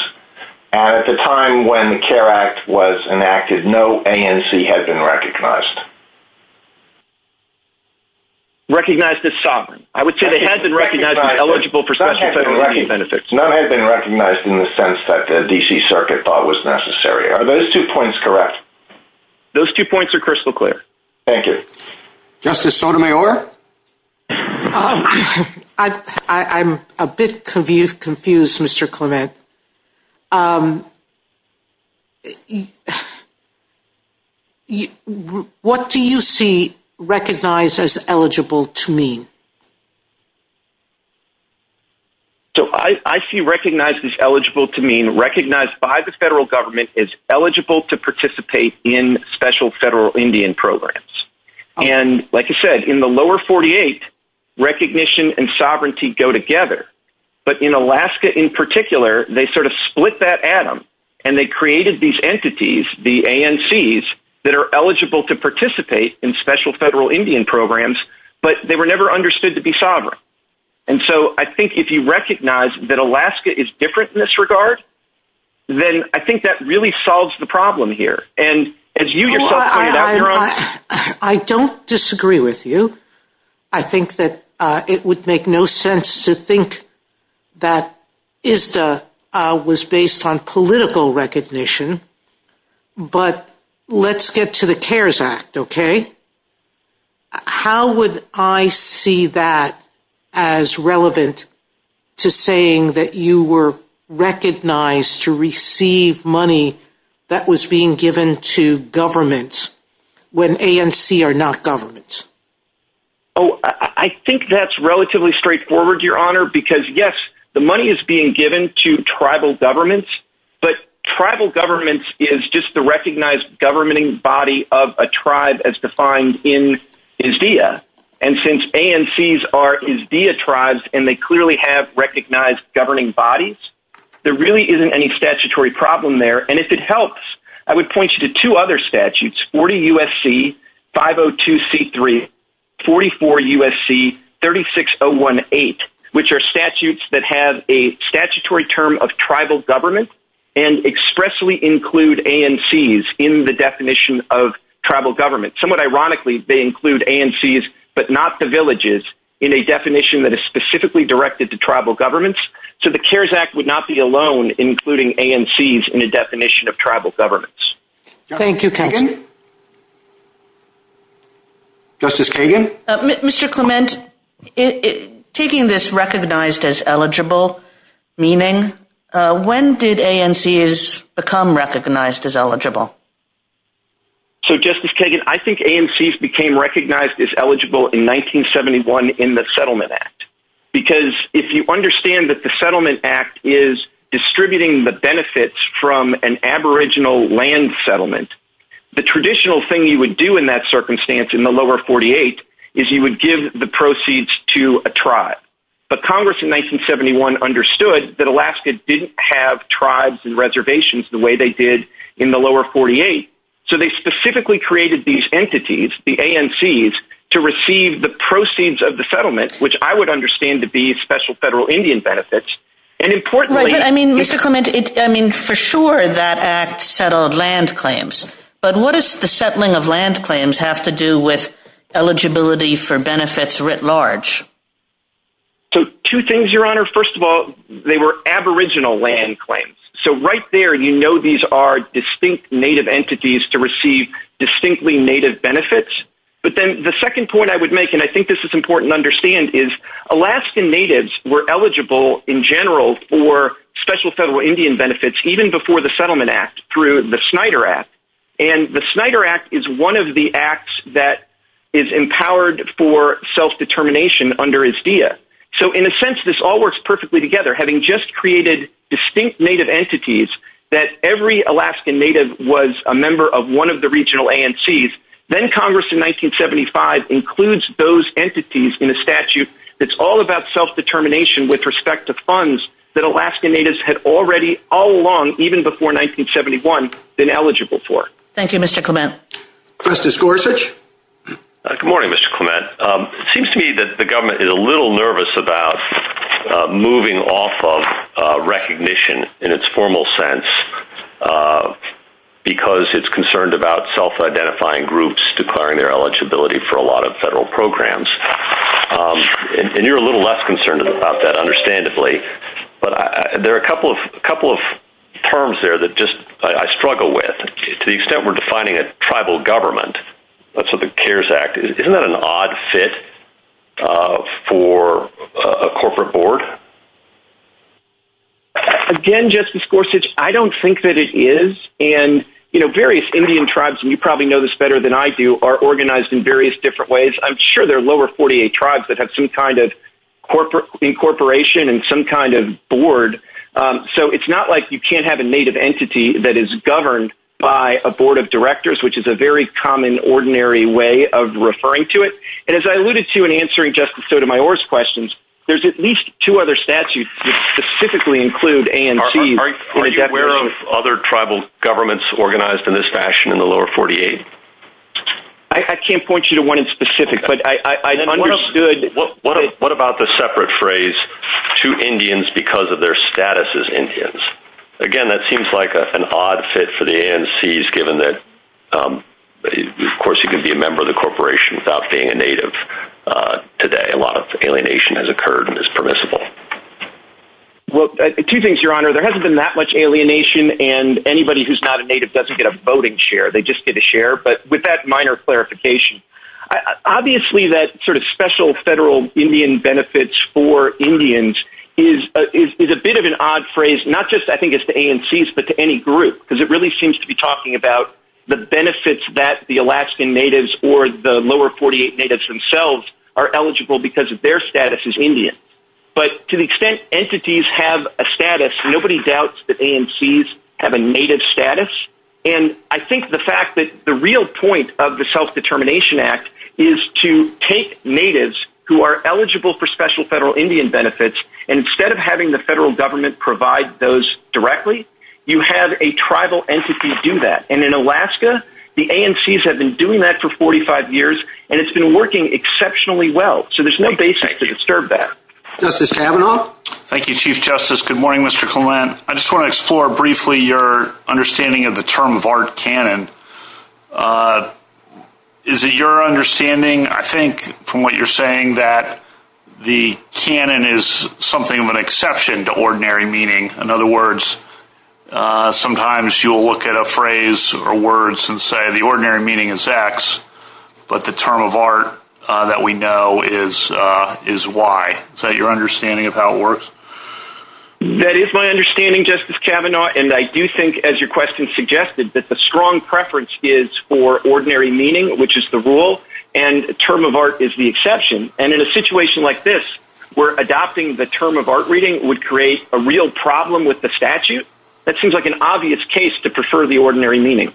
At the time when the CARE Act was enacted, no ANC had been recognized. Recognized as sovereign. I would say they had been recognized as eligible for special settlement benefits. None had been recognized in the sense that the D.C. Circuit thought was necessary. Are those two points correct? Those two points are crystal clear. Thank you. Justice Sotomayor? I'm a bit confused, Mr. Clement. What do you see recognized as eligible to mean? So I see recognized as eligible to mean recognized by the federal government as eligible to participate in special federal Indian programs. And like you said, in the lower 48, recognition and sovereignty go together. But in Alaska in particular, they sort of split that atom and they created these entities, the ANCs, that are eligible to participate in special federal Indian programs, but they were never understood to be sovereign. And so I think if you recognize that Alaska is different in this regard, then I think that really solves the problem here. I don't disagree with you. I think that it would make no sense to think that ISDA was based on political recognition, but let's get to the CARES Act, okay? How would I see that as relevant to saying that you were recognized to receive money that was being given to governments when ANCs are not governments? Oh, I think that's relatively straightforward, Your Honor, because, yes, the money is being given to tribal governments, but tribal governments is just the recognized governing body of a tribe as defined in ISDA. And since ANCs are ISDA tribes and they clearly have recognized governing bodies, there really isn't any statutory problem there. And if it helps, I would point you to two other statutes, 40 U.S.C. 502C3, 44 U.S.C. 36018, which are statutes that have a statutory term of tribal government and expressly include ANCs in the definition of tribal government. Somewhat ironically, they include ANCs but not the villages in a definition that is specifically directed to tribal governments. So the CARES Act would not be alone including ANCs in the definition of tribal governments. Thank you, counsel. Justice Kagan? Mr. Clement, taking this recognized as eligible meaning, when did ANCs become recognized as eligible? So, Justice Kagan, I think ANCs became recognized as eligible in 1971 in the Settlement Act because if you understand that the Settlement Act is distributing the benefits from an aboriginal land settlement, the traditional thing you would do in that circumstance in the lower 48 is you would give the proceeds to a tribe. But Congress in 1971 understood that Alaska didn't have tribes and reservations the way they did in the lower 48. So they specifically created these entities, the ANCs, to receive the proceeds of the settlement, which I would understand to be special federal Indian benefits. And importantly... I mean, Mr. Clement, for sure that act settled land claims. But what does the settling of land claims have to do with eligibility for benefits writ large? So two things, Your Honor. First of all, they were aboriginal land claims. So right there you know these are distinct native entities to receive distinctly native benefits. But then the second point I would make, and I think this is important to understand, is Alaskan natives were eligible in general for special federal Indian benefits even before the Settlement Act through the Snyder Act. And the Snyder Act is one of the acts that is empowered for self-determination under ISDEA. So in a sense, this all works perfectly together, having just created distinct native entities that every Alaskan native was a member of one of the regional ANCs. Then Congress in 1975 includes those entities in a statute that's all about self-determination with respect to funds that Alaskan natives had already all along, even before 1971, been eligible for. Thank you, Mr. Clement. First is Gorsuch. Good morning, Mr. Clement. It seems to me that the government is a little nervous about moving off of recognition in its formal sense because it's concerned about self-identifying groups declaring their eligibility for a lot of federal programs. And you're a little less concerned about that, understandably. But there are a couple of terms there that just I struggle with. To the extent we're defining a tribal government, that's what the CARES Act is, isn't that an odd fit for a corporate board? Again, Justice Gorsuch, I don't think that it is. And various Indian tribes, and you probably know this better than I do, are organized in various different ways. I'm sure there are lower 48 tribes that have some kind of incorporation and some kind of board. So it's not like you can't have a native entity that is governed by a board of directors, which is a very common, ordinary way of referring to it. And as I alluded to in answering Justice Sotomayor's questions, there's at least two other statutes that specifically include ANCs. Are you aware of other tribal governments organized in this fashion in the lower 48? I can't point you to one in specific. What about the separate phrase, two Indians because of their status as Indians? Again, that seems like an odd fit for the ANCs given that, of course, you can be a member of the corporation without being a native today. A lot of alienation has occurred and is permissible. Well, two things, Your Honor. There hasn't been that much alienation, and anybody who's not a native doesn't get a voting share. They just get a share. But with that minor clarification, obviously that sort of special federal Indian benefits for Indians is a bit of an odd phrase, not just, I think, to ANCs but to any group because it really seems to be talking about the benefits that the Alaskan natives or the lower 48 natives themselves are eligible because their status is Indian. But to the extent entities have a status, nobody doubts that ANCs have a native status. And I think the fact that the real point of the Self-Determination Act is to take natives who are eligible for special federal Indian benefits, and instead of having the federal government provide those directly, you have a tribal entity do that. And in Alaska, the ANCs have been doing that for 45 years, and it's been working exceptionally well. So there's no basis to disturb that. Justice Kavanaugh? Thank you, Chief Justice. Good morning, Mr. Collin. I just want to explore briefly your understanding of the term of art canon. Is it your understanding, I think, from what you're saying, that the canon is something of an exception to ordinary meaning? In other words, sometimes you'll look at a phrase or words and say the ordinary meaning is X, but the term of art that we know is Y. Is that your understanding of how it works? That is my understanding, Justice Kavanaugh. And I do think, as your question suggested, that the strong preference is for ordinary meaning, which is the rule, and term of art is the exception. And in a situation like this, where adopting the term of art reading would create a real problem with the statute, that seems like an obvious case to prefer the ordinary meaning.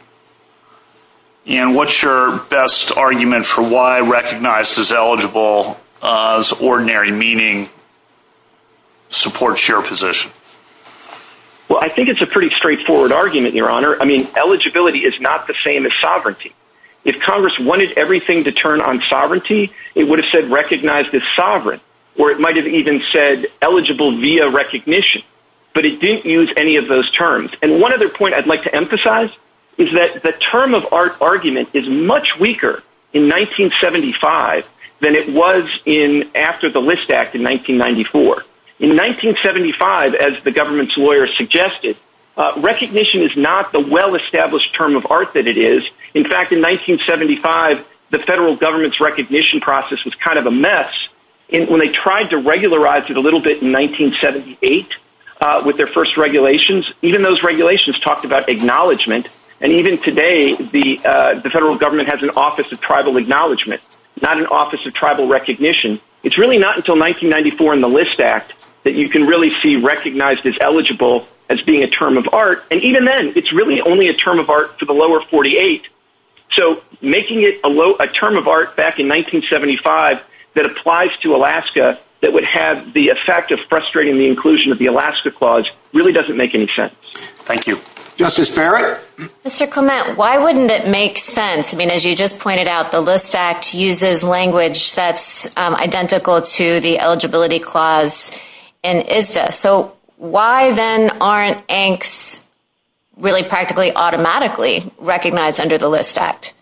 And what's your best argument for why recognize as eligible as ordinary meaning supports your position? Well, I think it's a pretty straightforward argument, Your Honor. I mean, eligibility is not the same as sovereignty. If Congress wanted everything to turn on sovereignty, it would have said recognize as sovereign, or it might have even said eligible via recognition. But it didn't use any of those terms. And one other point I'd like to emphasize is that the term of art argument is much weaker in 1975 than it was after the List Act in 1994. In 1975, as the government's lawyers suggested, recognition is not the well-established term of art that it is. In fact, in 1975, the federal government's recognition process was kind of a mess. And when they tried to regularize it a little bit in 1978 with their first regulations, even those regulations talked about acknowledgement. And even today, the federal government has an Office of Tribal Acknowledgement, not an Office of Tribal Recognition. It's really not until 1994 and the List Act that you can really see recognize as eligible as being a term of art. And even then, it's really only a term of art for the lower 48. So making it a term of art back in 1975 that applies to Alaska that would have the effect of frustrating the inclusion of the Alaska Clause really doesn't make any sense. Thank you. Justice Barrett? Mr. Clement, why wouldn't it make sense? I mean, as you just pointed out, the List Act uses language that's identical to the Eligibility Clause in ISDA. So why, then, aren't ANCs really practically automatically recognized under the List Act?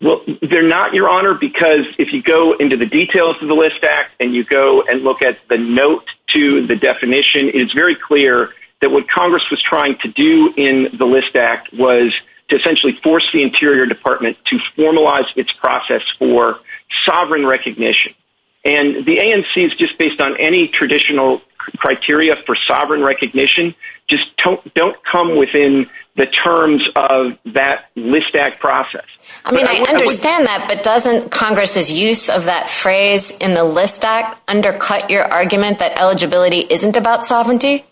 Well, they're not, Your Honor, because if you go into the details of the List Act and you go and look at the note to the definition, it's very clear that what Congress was trying to do in the List Act was to essentially force the Interior Department to formalize its process for sovereign recognition. And the ANCs, just based on any traditional criteria for sovereign recognition, just don't come within the terms of that List Act process. I mean, I understand that, but doesn't Congress' use of that phrase in the List Act undercut your argument that eligibility isn't about sovereignty?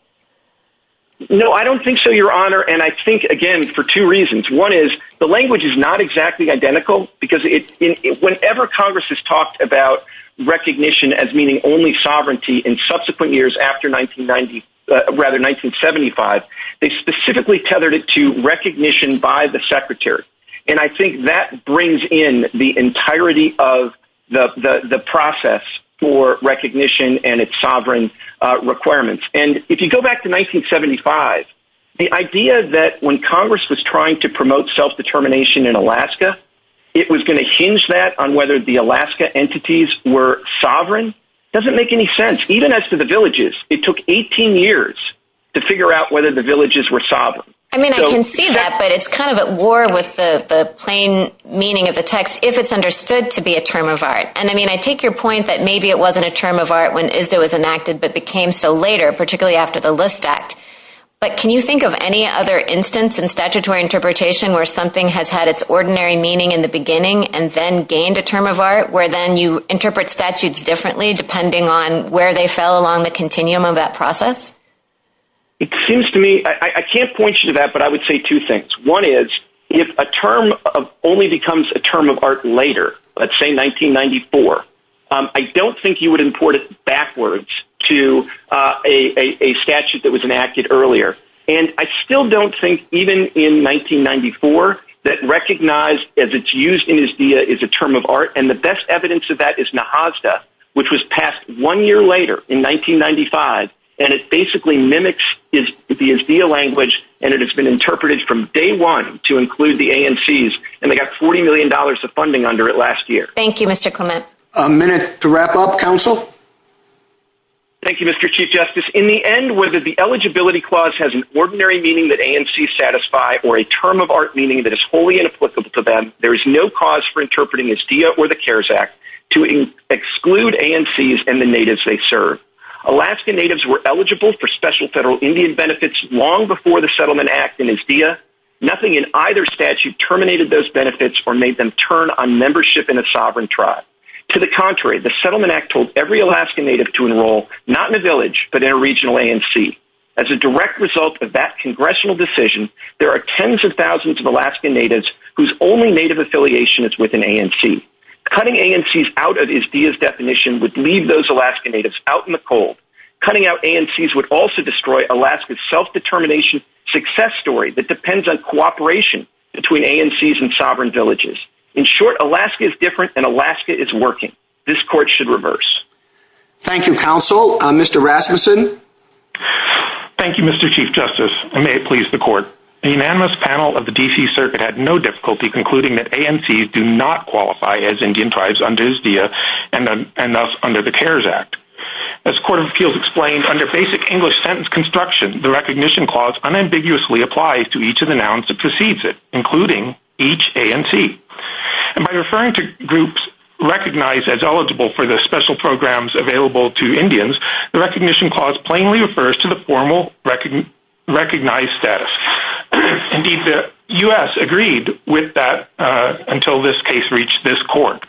No, I don't think so, Your Honor. And I think, again, for two reasons. One is the language is not exactly identical, because whenever Congress has talked about recognition as meaning only sovereignty in subsequent years after 1975, they specifically tethered it to recognition by the Secretary. And I think that brings in the entirety of the process for recognition and its sovereign requirements. And if you go back to 1975, the idea that when Congress was trying to promote self-determination in Alaska, it was going to hinge that on whether the Alaska entities were sovereign doesn't make any sense, even as to the villages. It took 18 years to figure out whether the villages were sovereign. I mean, I can see that, but it's kind of at war with the plain meaning of the text if it's understood to be a term of art. And I mean, I take your point that maybe it wasn't a term of art when ISDA was enacted, but became so later, particularly after the List Act. But can you think of any other instance in statutory interpretation where something has had its ordinary meaning in the beginning and then gained a term of art, where then you interpret statutes differently depending on where they fell along the continuum of that process? It seems to me, I can't point you to that, but I would say two things. One is, if a term only becomes a term of art later, let's say 1994, I don't think you would import it backwards to a statute that was enacted earlier. And I still don't think even in 1994 that recognized as it's used in ISDIA is a term of art. And the best evidence of that is Nahasda, which was passed one year later in 1995, and it basically mimics the ISDIA language, and it has been interpreted from day one to include the ANCs, and they got $40 million of funding under it last year. Thank you, Mr. Clement. A minute to wrap up. Counsel? Thank you, Mr. Chief Justice. In the end, whether the eligibility clause has an ordinary meaning that ANCs satisfy or a term of art meaning that is wholly inapplicable to them, there is no cause for interpreting ISDIA or the CARES Act to exclude ANCs and the natives they serve. Alaskan natives were eligible for special federal Indian benefits long before the Settlement Act in ISDIA. Nothing in either statute terminated those benefits or made them turn on membership in a sovereign tribe. To the contrary, the Settlement Act told every Alaskan native to enroll not in a village, but in a regional ANC. As a direct result of that congressional decision, there are tens of thousands of Alaskan natives whose only native affiliation is with an ANC. Cutting ANCs out of ISDIA's definition would leave those Alaskan natives out in the cold. Cutting out ANCs would also destroy Alaska's self-determination success story that depends on cooperation between ANCs and sovereign villages. In short, Alaska is different and Alaska is working. This court should reverse. Thank you, Counsel. Mr. Rasmussen? Thank you, Mr. Chief Justice, and may it please the court. The unanimous panel of the D.C. Circuit had no difficulty concluding that ANCs do not qualify as Indian tribes under ISDIA and thus under the CARES Act. As court of appeals explained, under basic English sentence construction, the recognition clause unambiguously applies to each of the nouns that precedes it, including each ANC. And by referring to groups recognized as eligible for the special programs available to Indians, the recognition clause plainly refers to the formal recognized status. Indeed, the U.S. agreed with that until this case reached this court.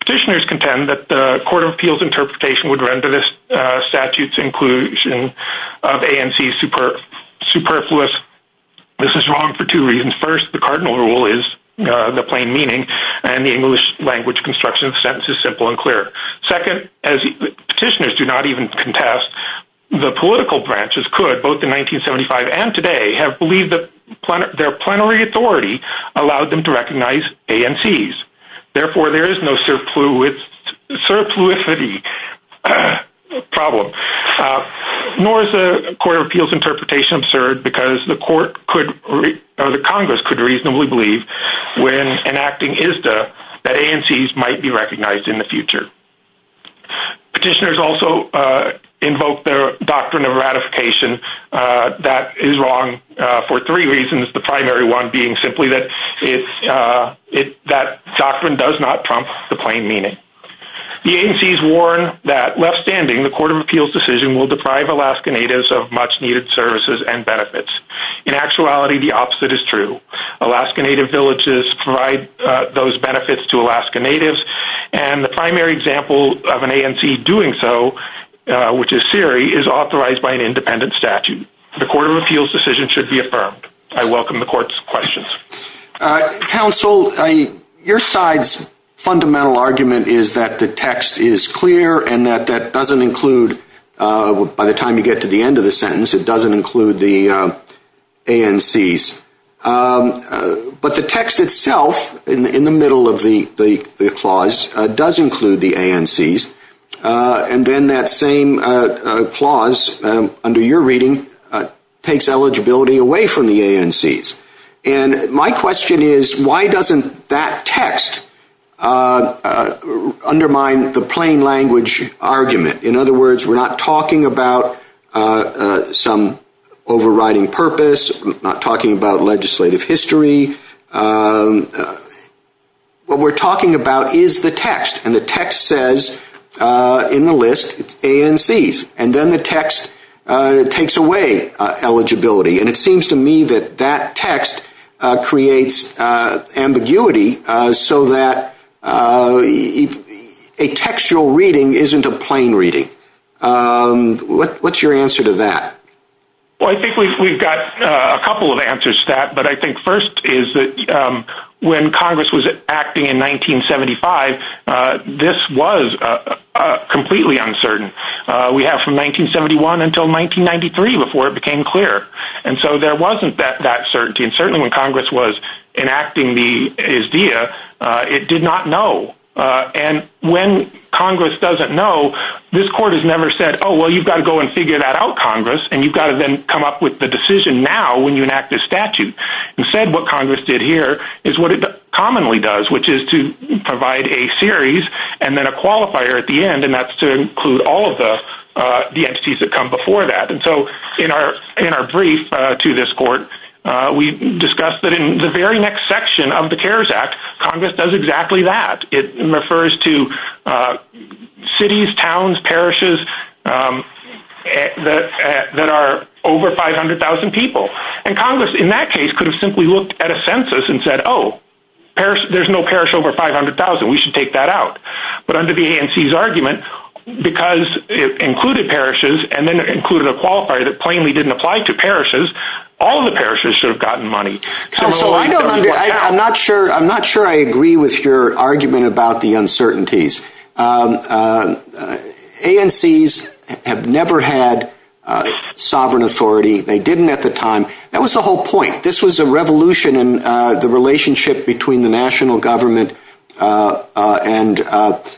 Petitioners contend that the court of appeals interpretation would render this statute's inclusion of ANCs superfluous. This is wrong for two reasons. First, the cardinal rule is the plain meaning, and the English language construction of the sentence is simple and clear. Second, as petitioners do not even contest, the political branches could, both in 1975 and today, have believed that their plenary authority allowed them to recognize ANCs. Therefore, there is no surplusivity problem, nor is the court of appeals interpretation absurd because the Congress could reasonably believe, when enacting ISDIA, that ANCs might be recognized in the future. Petitioners also invoke their doctrine of ratification. That is wrong for three reasons, the primary one being simply that that doctrine does not trump the plain meaning. The ANCs warn that, left standing, the court of appeals decision will deprive Alaska Natives of much-needed services and benefits. In actuality, the opposite is true. Alaska Native villages provide those benefits to Alaska Natives, and the primary example of an ANC doing so, which is Siri, is authorized by an independent statute. The court of appeals decision should be affirmed. I welcome the court's questions. Counsel, your side's fundamental argument is that the text is clear and that that doesn't include, by the time you get to the end of the sentence, it doesn't include the ANCs. But the text itself, in the middle of the clause, does include the ANCs, and then that same clause, under your reading, takes eligibility away from the ANCs. And my question is, why doesn't that text undermine the plain language argument? In other words, we're not talking about some overriding purpose, we're not talking about legislative history. What we're talking about is the text, and the text says, in the list, ANCs. And then the text takes away eligibility, and it seems to me that that text creates ambiguity so that a textual reading isn't a plain reading. What's your answer to that? Well, I think we've got a couple of answers to that, but I think first is that when Congress was acting in 1975, this was completely uncertain. We have from 1971 until 1993 before it became clear. And so there wasn't that certainty, and certainly when Congress was enacting the ISDEA, it did not know. And when Congress doesn't know, this Court has never said, oh, well, you've got to go and figure that out, Congress, and you've got to then come up with the decision now when you enact this statute. Instead, what Congress did here is what it commonly does, which is to provide a series and then a qualifier at the end, and that's to include all of the entities that come before that. And so in our brief to this Court, we discussed that in the very next section of the CARES Act, Congress does exactly that. It refers to cities, towns, parishes that are over 500,000 people. And Congress in that case could have simply looked at a census and said, oh, there's no parish over 500,000. We should take that out. But under the ANC's argument, because it included parishes and then included a qualifier that plainly didn't apply to parishes, all the parishes should have gotten money. So I'm not sure I agree with your argument about the uncertainties. ANCs have never had sovereign authority. They didn't at the time. That was the whole point. This was a revolution in the relationship between the national government and the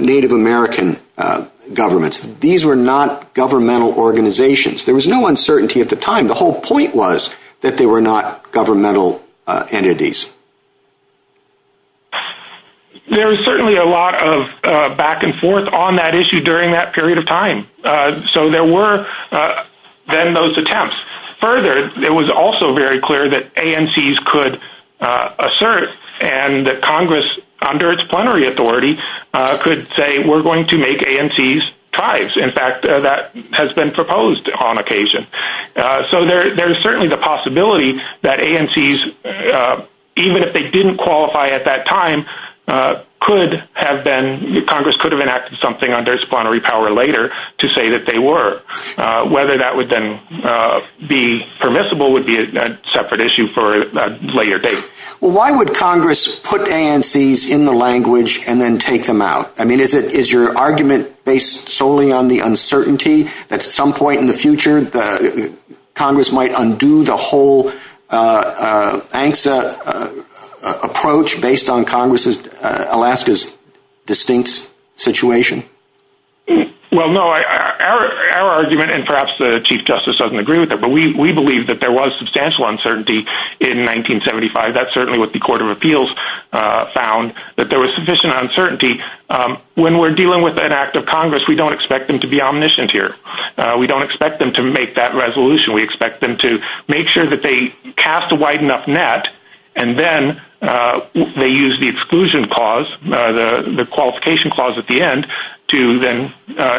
Native American government. These were not governmental organizations. There was no uncertainty at the time. The whole point was that they were not governmental entities. There was certainly a lot of back and forth on that issue during that period of time. So there were then those attempts. Further, it was also very clear that ANCs could assert and that Congress, under its plenary authority, could say we're going to make ANCs tribes. In fact, that has been proposed on occasion. So there's certainly the possibility that ANCs, even if they didn't qualify at that time, Congress could have enacted something under its plenary power later to say that they were. Whether that would then be permissible would be a separate issue for a later date. Why would Congress put ANCs in the language and then take them out? I mean, is your argument based solely on the uncertainty that at some point in the future, Congress might undo the whole ANCSA approach based on Congress' Alaska's distinct situation? Well, no. Our argument, and perhaps the Chief Justice doesn't agree with it, but we believe that there was substantial uncertainty in 1975. That's certainly what the Court of Appeals found, that there was sufficient uncertainty. When we're dealing with an act of Congress, we don't expect them to be omniscient here. We don't expect them to make that resolution. We expect them to make sure that they cast a wide enough net, and then they use the exclusion clause, the qualification clause at the end, to then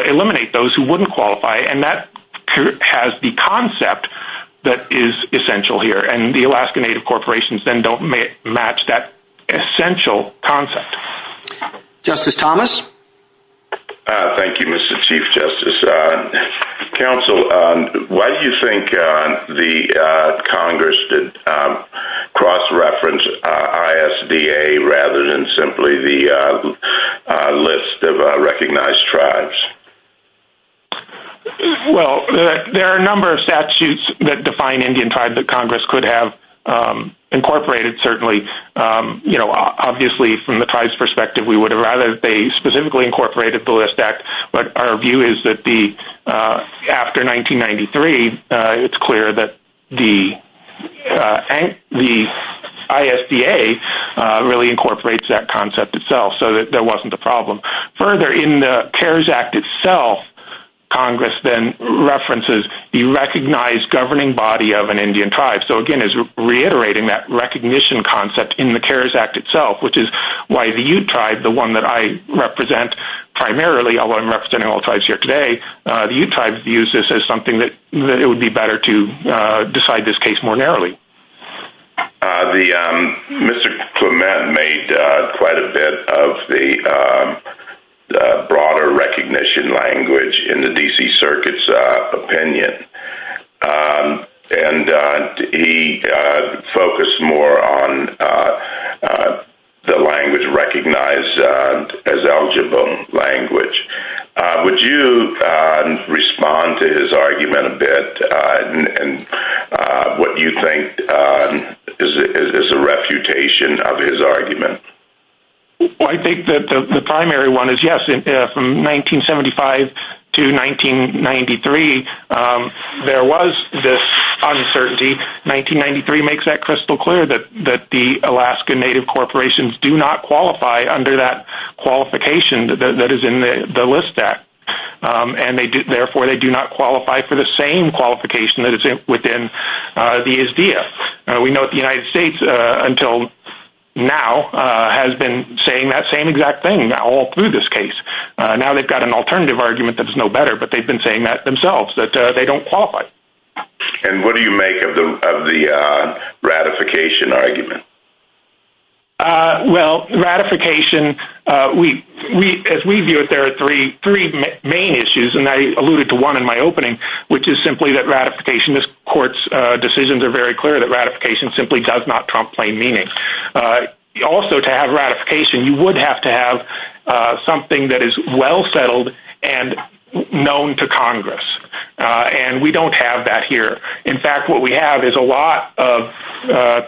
eliminate those who wouldn't qualify. And that has the concept that is essential here, and the Alaska Native corporations then don't match that essential concept. Justice Thomas? Thank you, Mr. Chief Justice. Counsel, why do you think the Congress did cross-reference ISDA rather than simply the list of recognized tribes? Well, there are a number of statutes that define Indian tribe that Congress could have incorporated, certainly. Obviously, from the tribe's perspective, we would have rather that they specifically incorporated the List Act, but our view is that after 1993, it's clear that the ISDA really incorporates that concept itself, so that there wasn't a problem. Further, in the CARES Act itself, Congress then references the recognized governing body of an Indian tribe. So, again, it's reiterating that recognition concept in the CARES Act itself, which is why the Ute tribe, the one that I represent primarily, although I'm representing all tribes here today, the Ute tribe views this as something that it would be better to decide this case more narrowly. Mr. Clement made quite a bit of the broader recognition language in the D.C. Circuit's opinion, and he focused more on the language recognized as eligible language. Would you respond to his argument a bit, and what do you think is a refutation of his argument? I think that the primary one is yes. From 1975 to 1993, there was this uncertainty. 1993 makes that crystal clear that the Alaska Native corporations do not qualify under that qualification that is in the List Act, and therefore they do not qualify for the same qualification that is within the ISDA. We know that the United States, until now, has been saying that same exact thing all through this case. Now they've got an alternative argument that is no better, but they've been saying that themselves, that they don't qualify. And what do you make of the ratification argument? Well, ratification, as we view it, there are three main issues, and I alluded to one in my opening, which is simply that ratification, this court's decisions are very clear that ratification simply does not complain meaning. Also, to have ratification, you would have to have something that is well settled and known to Congress, and we don't have that here. In fact, what we have is a lot of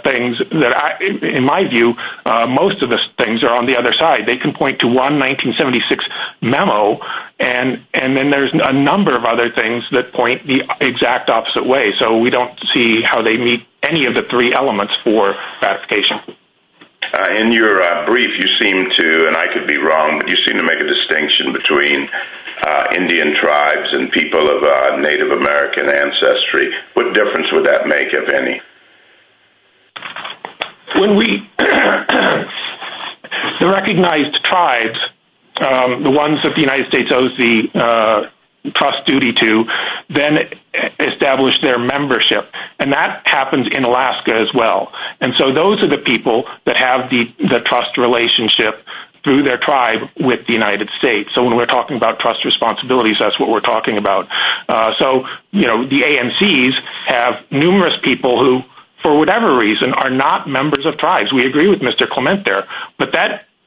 things that, in my view, most of the things are on the other side. They can point to one 1976 memo, and then there's a number of other things that point the exact opposite way, so we don't see how they meet any of the three elements for ratification. In your brief, you seem to, and I could be wrong, but you seem to make a distinction between Indian tribes and people of Native American ancestry. What difference would that make, if any? The recognized tribes, the ones that the United States owes the trust duty to, then establish their membership, and that happens in Alaska as well. And so those are the people that have the trust relationship through their tribe with the United States. So when we're talking about trust responsibilities, that's what we're talking about. The ANCs have numerous people who, for whatever reason, are not members of tribes. We agree with Mr. Clement there, but that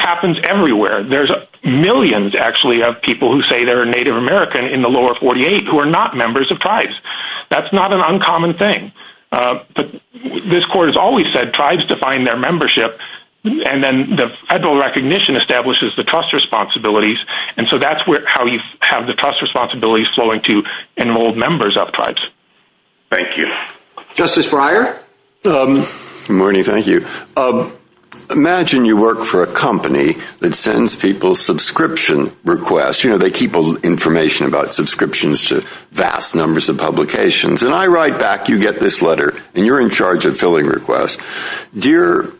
happens everywhere. There's millions, actually, of people who say they're Native American in the lower 48 who are not members of tribes. That's not an uncommon thing. This Court has always said tribes define their membership, and then the federal recognition establishes the trust responsibilities, and so that's how you have the trust responsibilities flowing to enrolled members of tribes. Thank you. Justice Breyer? Good morning, thank you. Imagine you work for a company that sends people subscription requests. They keep information about subscriptions to vast numbers of publications, and I write back, you get this letter, and you're in charge of filling requests. Dear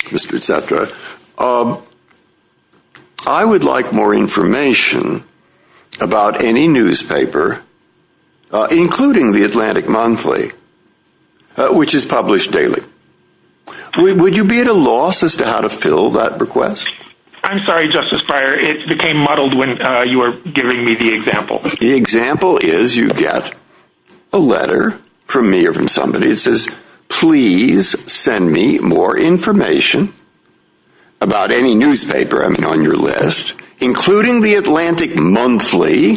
Mr. Cetra, I would like more information about any newspaper, including the Atlantic Monthly, which is published daily. Would you be at a loss as to how to fill that request? I'm sorry, Justice Breyer. It became muddled when you were giving me the example. The example is you get a letter from me or from somebody who says, please send me more information about any newspaper on your list, including the Atlantic Monthly,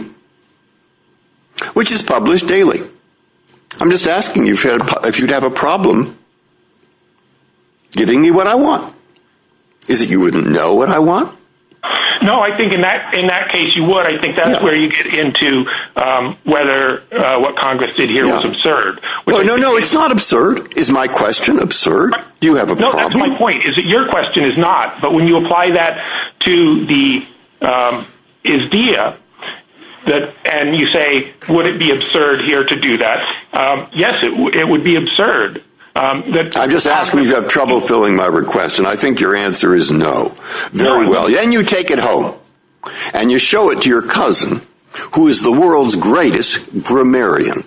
which is published daily. I'm just asking you if you'd have a problem giving me what I want. Is it you wouldn't know what I want? No, I think in that case you would. I think that's where you get into whether what Congress did here was absurd. No, no, it's not absurd. Is my question absurd? Do you have a problem? No, that's my point, is that your question is not. But when you apply that to the idea, and you say, would it be absurd here to do that? Yes, it would be absurd. I'm just asking you to have trouble filling my request, and I think your answer is no. Then you take it home, and you show it to your cousin, who is the world's greatest grammarian.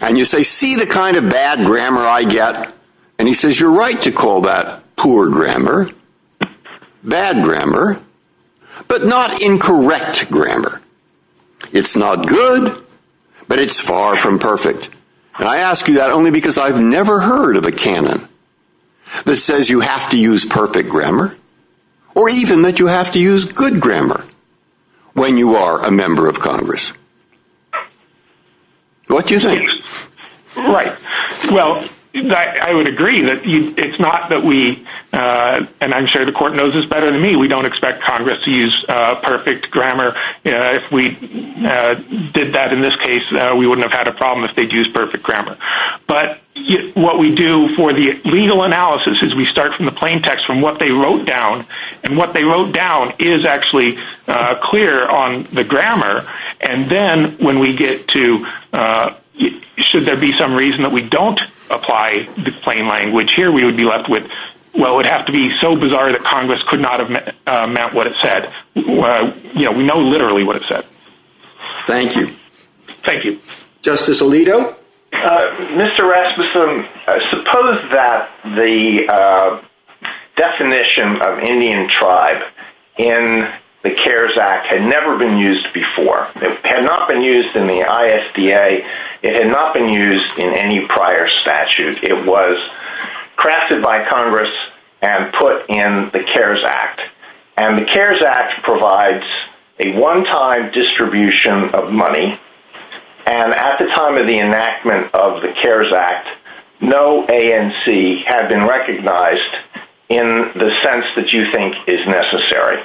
And you say, see the kind of bad grammar I get? And he says, you're right to call that poor grammar, bad grammar, but not incorrect grammar. It's not good, but it's far from perfect. And I ask you that only because I've never heard of a canon that says you have to use perfect grammar, or even that you have to use good grammar when you are a member of Congress. What do you think? Right. Well, I would agree that it's not that we, and I'm sure the court knows this better than me, we don't expect Congress to use perfect grammar. If we did that in this case, we wouldn't have had a problem if they'd used perfect grammar. But what we do for the legal analysis is we start from the plain text, from what they wrote down. And what they wrote down is actually clear on the grammar. And then when we get to, should there be some reason that we don't apply the plain language here, we would be left with, well, it would have to be so bizarre that Congress could not have meant what it said. We know literally what it said. Thank you. Thank you. Justice Alito? Mr. Rasmussen, I suppose that the definition of Indian tribe in the CARES Act had never been used before. It had not been used in the ISDA. It had not been used in any prior statute. It was crafted by Congress and put in the CARES Act. And the CARES Act provides a one-time distribution of money. And at the time of the enactment of the CARES Act, no ANC had been recognized in the sense that you think is necessary.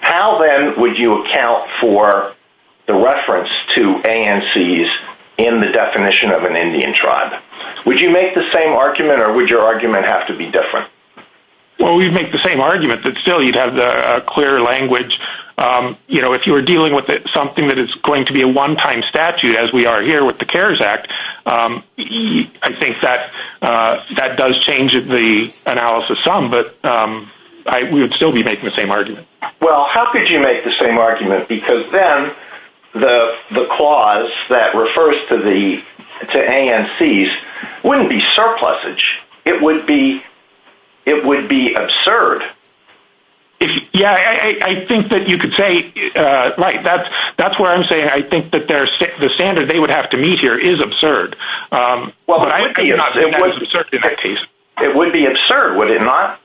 How, then, would you account for the reference to ANCs in the definition of an Indian tribe? Would you make the same argument, or would your argument have to be different? Well, we'd make the same argument, but still you'd have the clear language. You know, if you were dealing with something that is going to be a one-time statute, as we are here with the CARES Act, I think that does change the analysis some, but we would still be making the same argument. Well, how could you make the same argument? Because then the clause that refers to ANCs wouldn't be surplusage. It would be absurd. Yeah, I think that you could say, that's what I'm saying. I think that the standard they would have to meet here is absurd. Well, it would be absurd, would it not?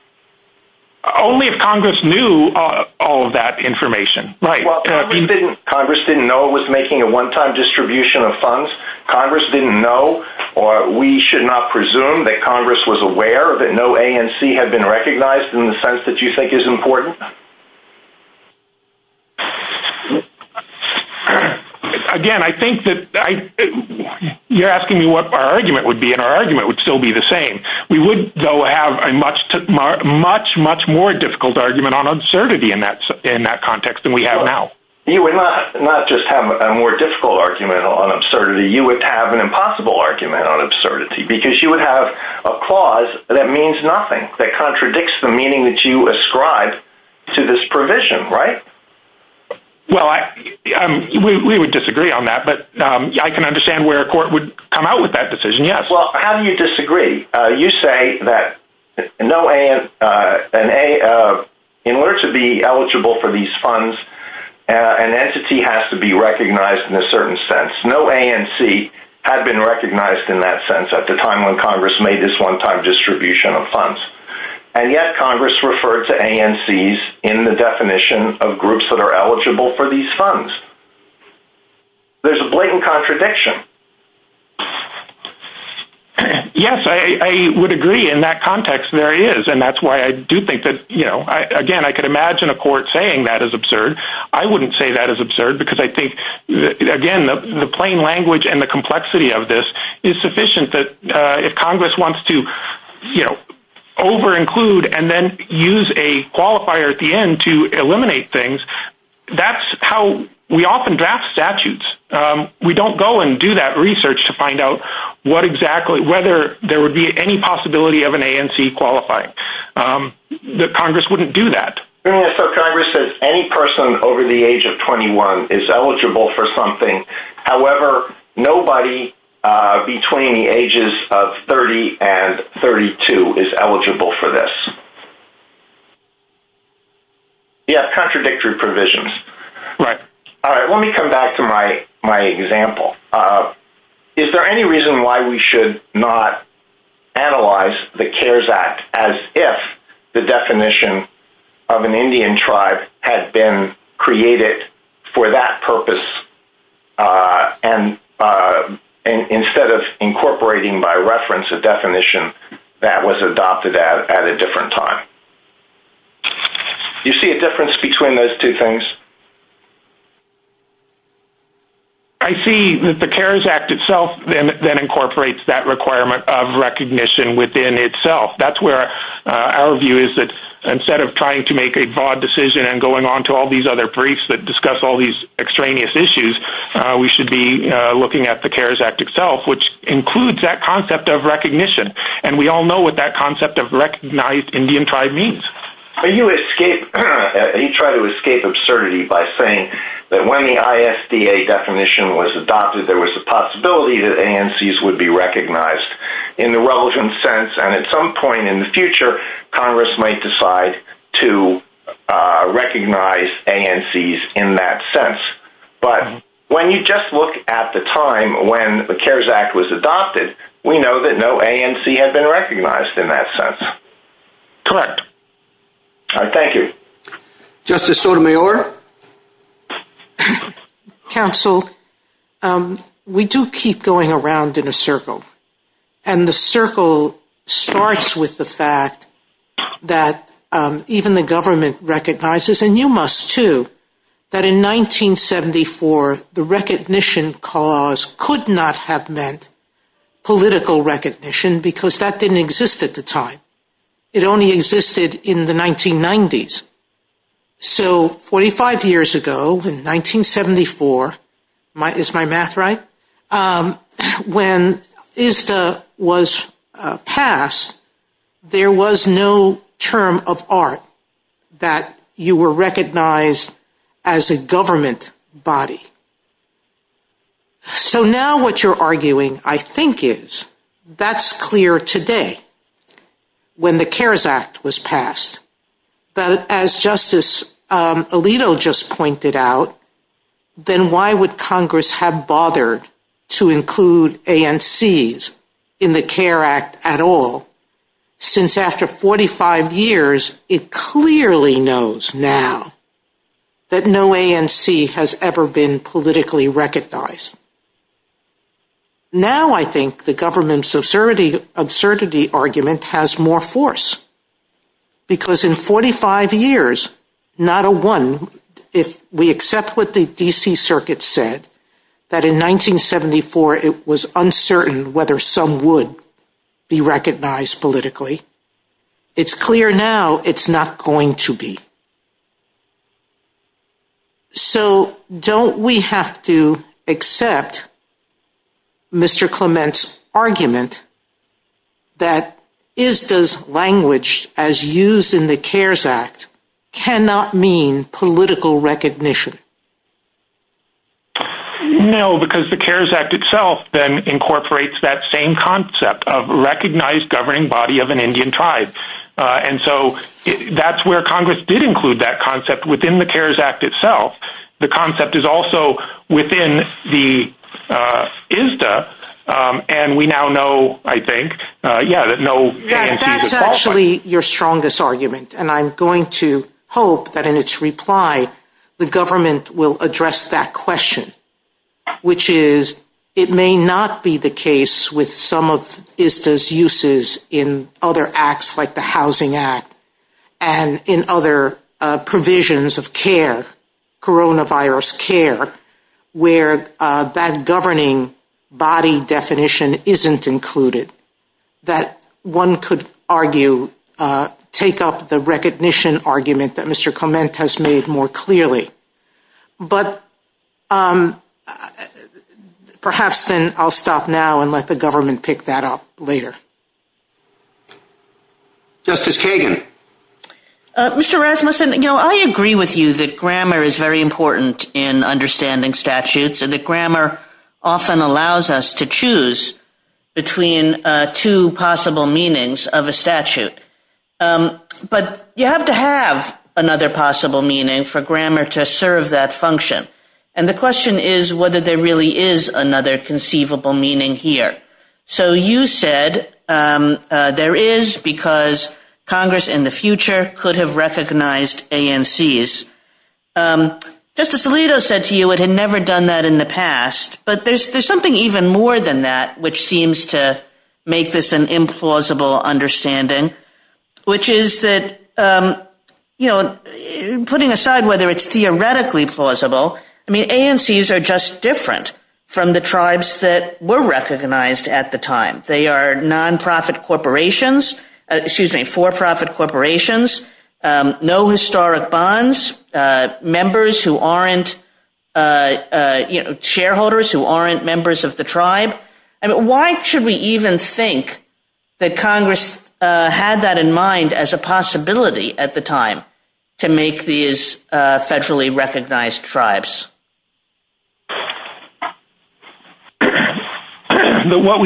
Only if Congress knew all of that information. Congress didn't know it was making a one-time distribution of funds. Congress didn't know, or we should not presume that Congress was aware that no ANC had been recognized in the sense that you think is important? Again, I think that you're asking me what our argument would be, and our argument would still be the same. We would, though, have a much, much more difficult argument on absurdity in that context than we have now. You would not just have a more difficult argument on absurdity, you would have an impossible argument on absurdity, because you would have a clause that means nothing, that contradicts the meaning that you ascribe to this provision, right? Well, we would disagree on that, but I can understand where a court would come out with that decision, yes. Well, how do you disagree? You say that in order to be eligible for these funds, an entity has to be recognized in a certain sense. No ANC had been recognized in that sense at the time when Congress made this one-time distribution of funds, and yet Congress referred to ANCs in the definition of groups that are eligible for these funds. There's a blatant contradiction. Yes, I would agree. In that context, there is, and that's why I do think that, you know, again, I could imagine a court saying that is absurd. I wouldn't say that is absurd, because I think, again, the plain language and the complexity of this is sufficient, that if Congress wants to, you know, over-include and then use a qualifier at the end to eliminate things, that's how we often draft statutes. We don't go and do that research to find out whether there would be any possibility of an ANC qualifying. Congress wouldn't do that. Congress says any person over the age of 21 is eligible for something. However, nobody between the ages of 30 and 32 is eligible for this. Yes, contradictory provisions. Right. All right, let me come back to my example. Is there any reason why we should not analyze the CARES Act as if the definition of an Indian tribe had been created for that purpose instead of incorporating by reference a definition that was adopted at a different time? Do you see a difference between those two things? I see that the CARES Act itself then incorporates that requirement of recognition within itself. That's where our view is that instead of trying to make a broad decision and going on to all these other briefs that discuss all these extraneous issues, we should be looking at the CARES Act itself, which includes that concept of recognition. We all know what that concept of recognized Indian tribe means. You try to escape absurdity by saying that when the ISDA definition was adopted, there was a possibility that ANCs would be recognized in the relevant sense. At some point in the future, Congress might decide to recognize ANCs in that sense. But when you just look at the time when the CARES Act was adopted, we know that no ANC had been recognized in that sense. Correct. All right, thank you. Justice Sotomayor? Counsel, we do keep going around in a circle, and the circle starts with the fact that even the government recognizes, and you must too, that in 1974, the recognition clause could not have meant political recognition because that didn't exist at the time. It only existed in the 1990s. So 45 years ago, in 1974, is my math right? When ISDA was passed, there was no term of art that you were recognized as a government body. So now what you're arguing, I think, is that's clear today when the CARES Act was passed. But as Justice Alito just pointed out, then why would Congress have bothered to include ANCs in the CARES Act at all? Since after 45 years, it clearly knows now that no ANC has ever been politically recognized. Now I think the government's absurdity argument has more force. Because in 45 years, not a one, if we accept what the D.C. Circuit said, that in 1974, it was uncertain whether some would be recognized politically, it's clear now it's not going to be. So don't we have to accept Mr. Clement's argument that ISDA's language as used in the CARES Act cannot mean political recognition? No, because the CARES Act itself then incorporates that same concept of recognized governing body of an Indian tribe. And so that's where Congress did include that concept within the CARES Act itself. The concept is also within the ISDA. And we now know, I think, that no ANC is at fault. That's actually your strongest argument. And I'm going to hope that in its reply, the government will address that question, which is it may not be the case with some of ISDA's uses in other acts like the Housing Act and in other provisions of care, coronavirus care, where that governing body definition isn't included, that one could argue, take up the recognition argument that Mr. Clement has made more clearly. But perhaps then I'll stop now and let the government pick that up later. Justice Kagan. Mr. Rasmussen, you know, I agree with you that grammar is very important in understanding statutes and that grammar often allows us to choose between two possible meanings of a statute. But you have to have another possible meaning for grammar to serve that function. And the question is whether there really is another conceivable meaning here. So you said there is because Congress in the future could have recognized ANCs. Justice Alito said to you it had never done that in the past. But there's something even more than that which seems to make this an implausible understanding. Which is that, you know, putting aside whether it's theoretically plausible, I mean, ANCs are just different from the tribes that were recognized at the time. They are nonprofit corporations, excuse me, for-profit corporations, no historic bonds, members who aren't, you know, shareholders who aren't members of the tribe. Why should we even think that Congress had that in mind as a possibility at the time to make these federally recognized tribes? What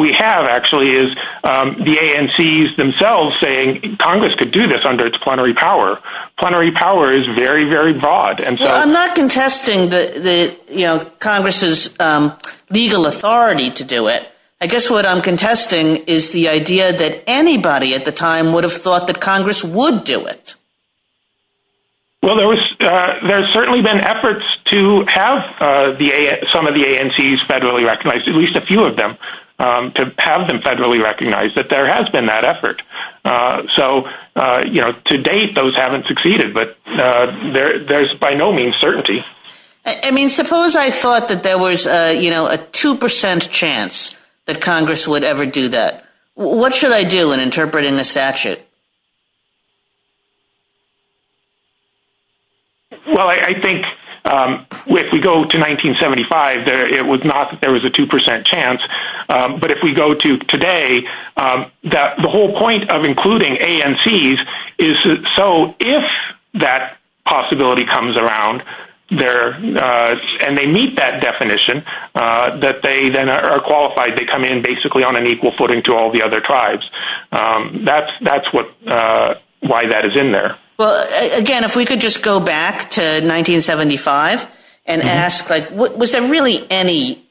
we have actually is the ANCs themselves saying Congress could do this under its plenary power. Plenary power is very, very broad. Well, I'm not contesting Congress's legal authority to do it. I guess what I'm contesting is the idea that anybody at the time would have thought that Congress would do it. Well, there's certainly been efforts to have some of the ANCs federally recognized, at least a few of them, to have them federally recognized, that there has been that effort. So, you know, to date those haven't succeeded, but there's by no means certainty. I mean, suppose I thought that there was, you know, a 2% chance that Congress would ever do that. What should I do in interpreting this statute? Well, I think if we go to 1975, it was not that there was a 2% chance. But if we go to today, the whole point of including ANCs is so if that possibility comes around and they meet that definition, that they then are qualified. They come in basically on an equal footing to all the other tribes. That's why that is in there. Well, again, if we could just go back to 1975 and ask, was there really any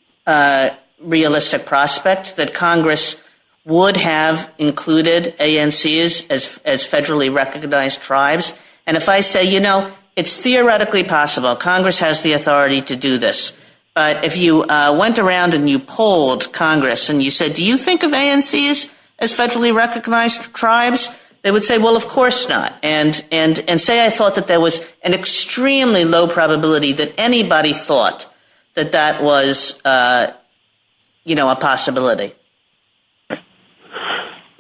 realistic prospect that Congress would have included ANCs as federally recognized tribes? And if I say, you know, it's theoretically possible. Congress has the authority to do this. But if you went around and you polled Congress and you said, do you think of ANCs as federally recognized tribes? They would say, well, of course not. And say I thought that there was an extremely low probability that anybody thought that that was, you know, a possibility.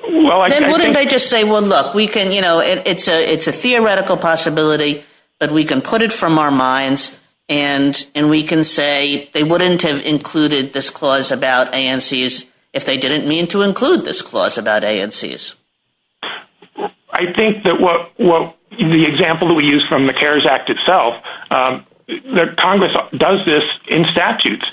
Then wouldn't they just say, well, look, we can, you know, it's a theoretical possibility, but we can put it from our minds and we can say they wouldn't have included this clause about ANCs if they didn't mean to include this clause about ANCs? I think that the example that we use from the CARES Act itself, Congress does this in statutes.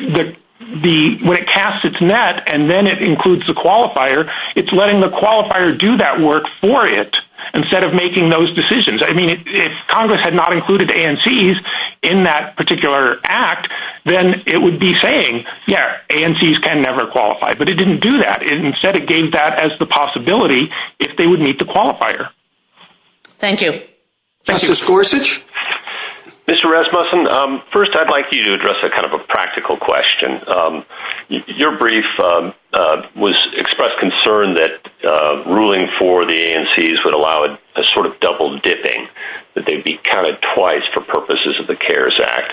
When it casts its net and then it includes the qualifier, it's letting the qualifier do that work for it instead of making those decisions. I mean, if Congress had not included ANCs in that particular act, then it would be saying, yeah, ANCs can never qualify. But it didn't do that. Instead, it gave that as the possibility if they would meet the qualifier. Thank you. Mr. Gorsuch? Mr. Rasmussen, first I'd like you to address a kind of a practical question. Your brief expressed concern that ruling for the ANCs would allow a sort of double dipping, that they'd be counted twice for purposes of the CARES Act.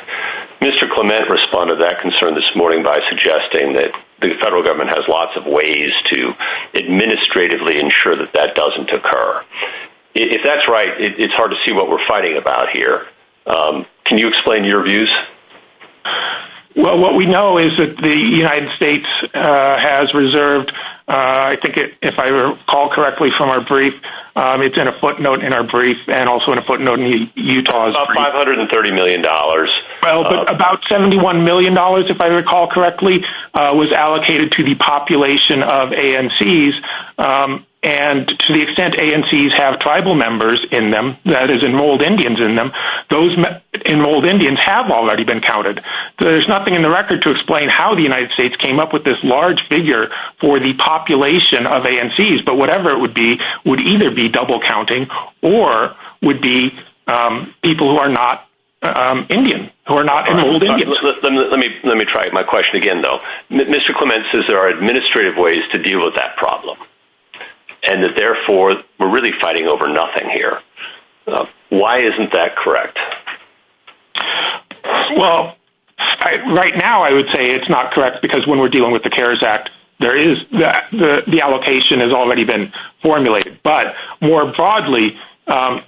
Mr. Clement responded to that concern this morning by suggesting that the federal government has lots of ways to administratively ensure that that doesn't occur. If that's right, it's hard to see what we're fighting about here. Can you explain your views? Well, what we know is that the United States has reserved, I think if I recall correctly from our brief, it's in a footnote in our brief and also in a footnote in Utah's brief. $530 million. About $71 million, if I recall correctly, was allocated to the population of ANCs. And to the extent ANCs have tribal members in them, that is, enrolled Indians in them, those enrolled Indians have already been counted. There's nothing in the record to explain how the United States came up with this large figure for the population of ANCs. But whatever it would be, would either be double counting or would be people who are not Indian, who are not enrolled Indians. Let me try my question again, though. Mr. Clement says there are administrative ways to deal with that problem and that therefore we're really fighting over nothing here. Why isn't that correct? Well, right now I would say it's not correct because when we're dealing with the CARES Act, the allocation has already been formulated. But more broadly, to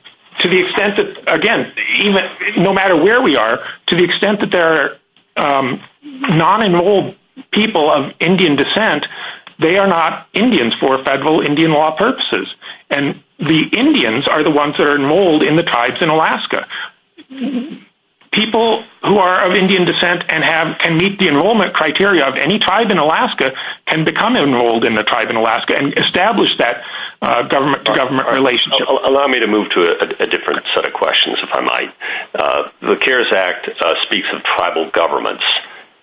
the extent that, again, no matter where we are, to the extent that there are non-enrolled people of Indian descent, they are not Indians for federal Indian law purposes. And the Indians are the ones that are enrolled in the tribes in Alaska. People who are of Indian descent and can meet the enrollment criteria of any tribe in Alaska can become enrolled in the tribe in Alaska and establish that government-to-government relationship. Allow me to move to a different set of questions, if I might. The CARES Act speaks of tribal governments,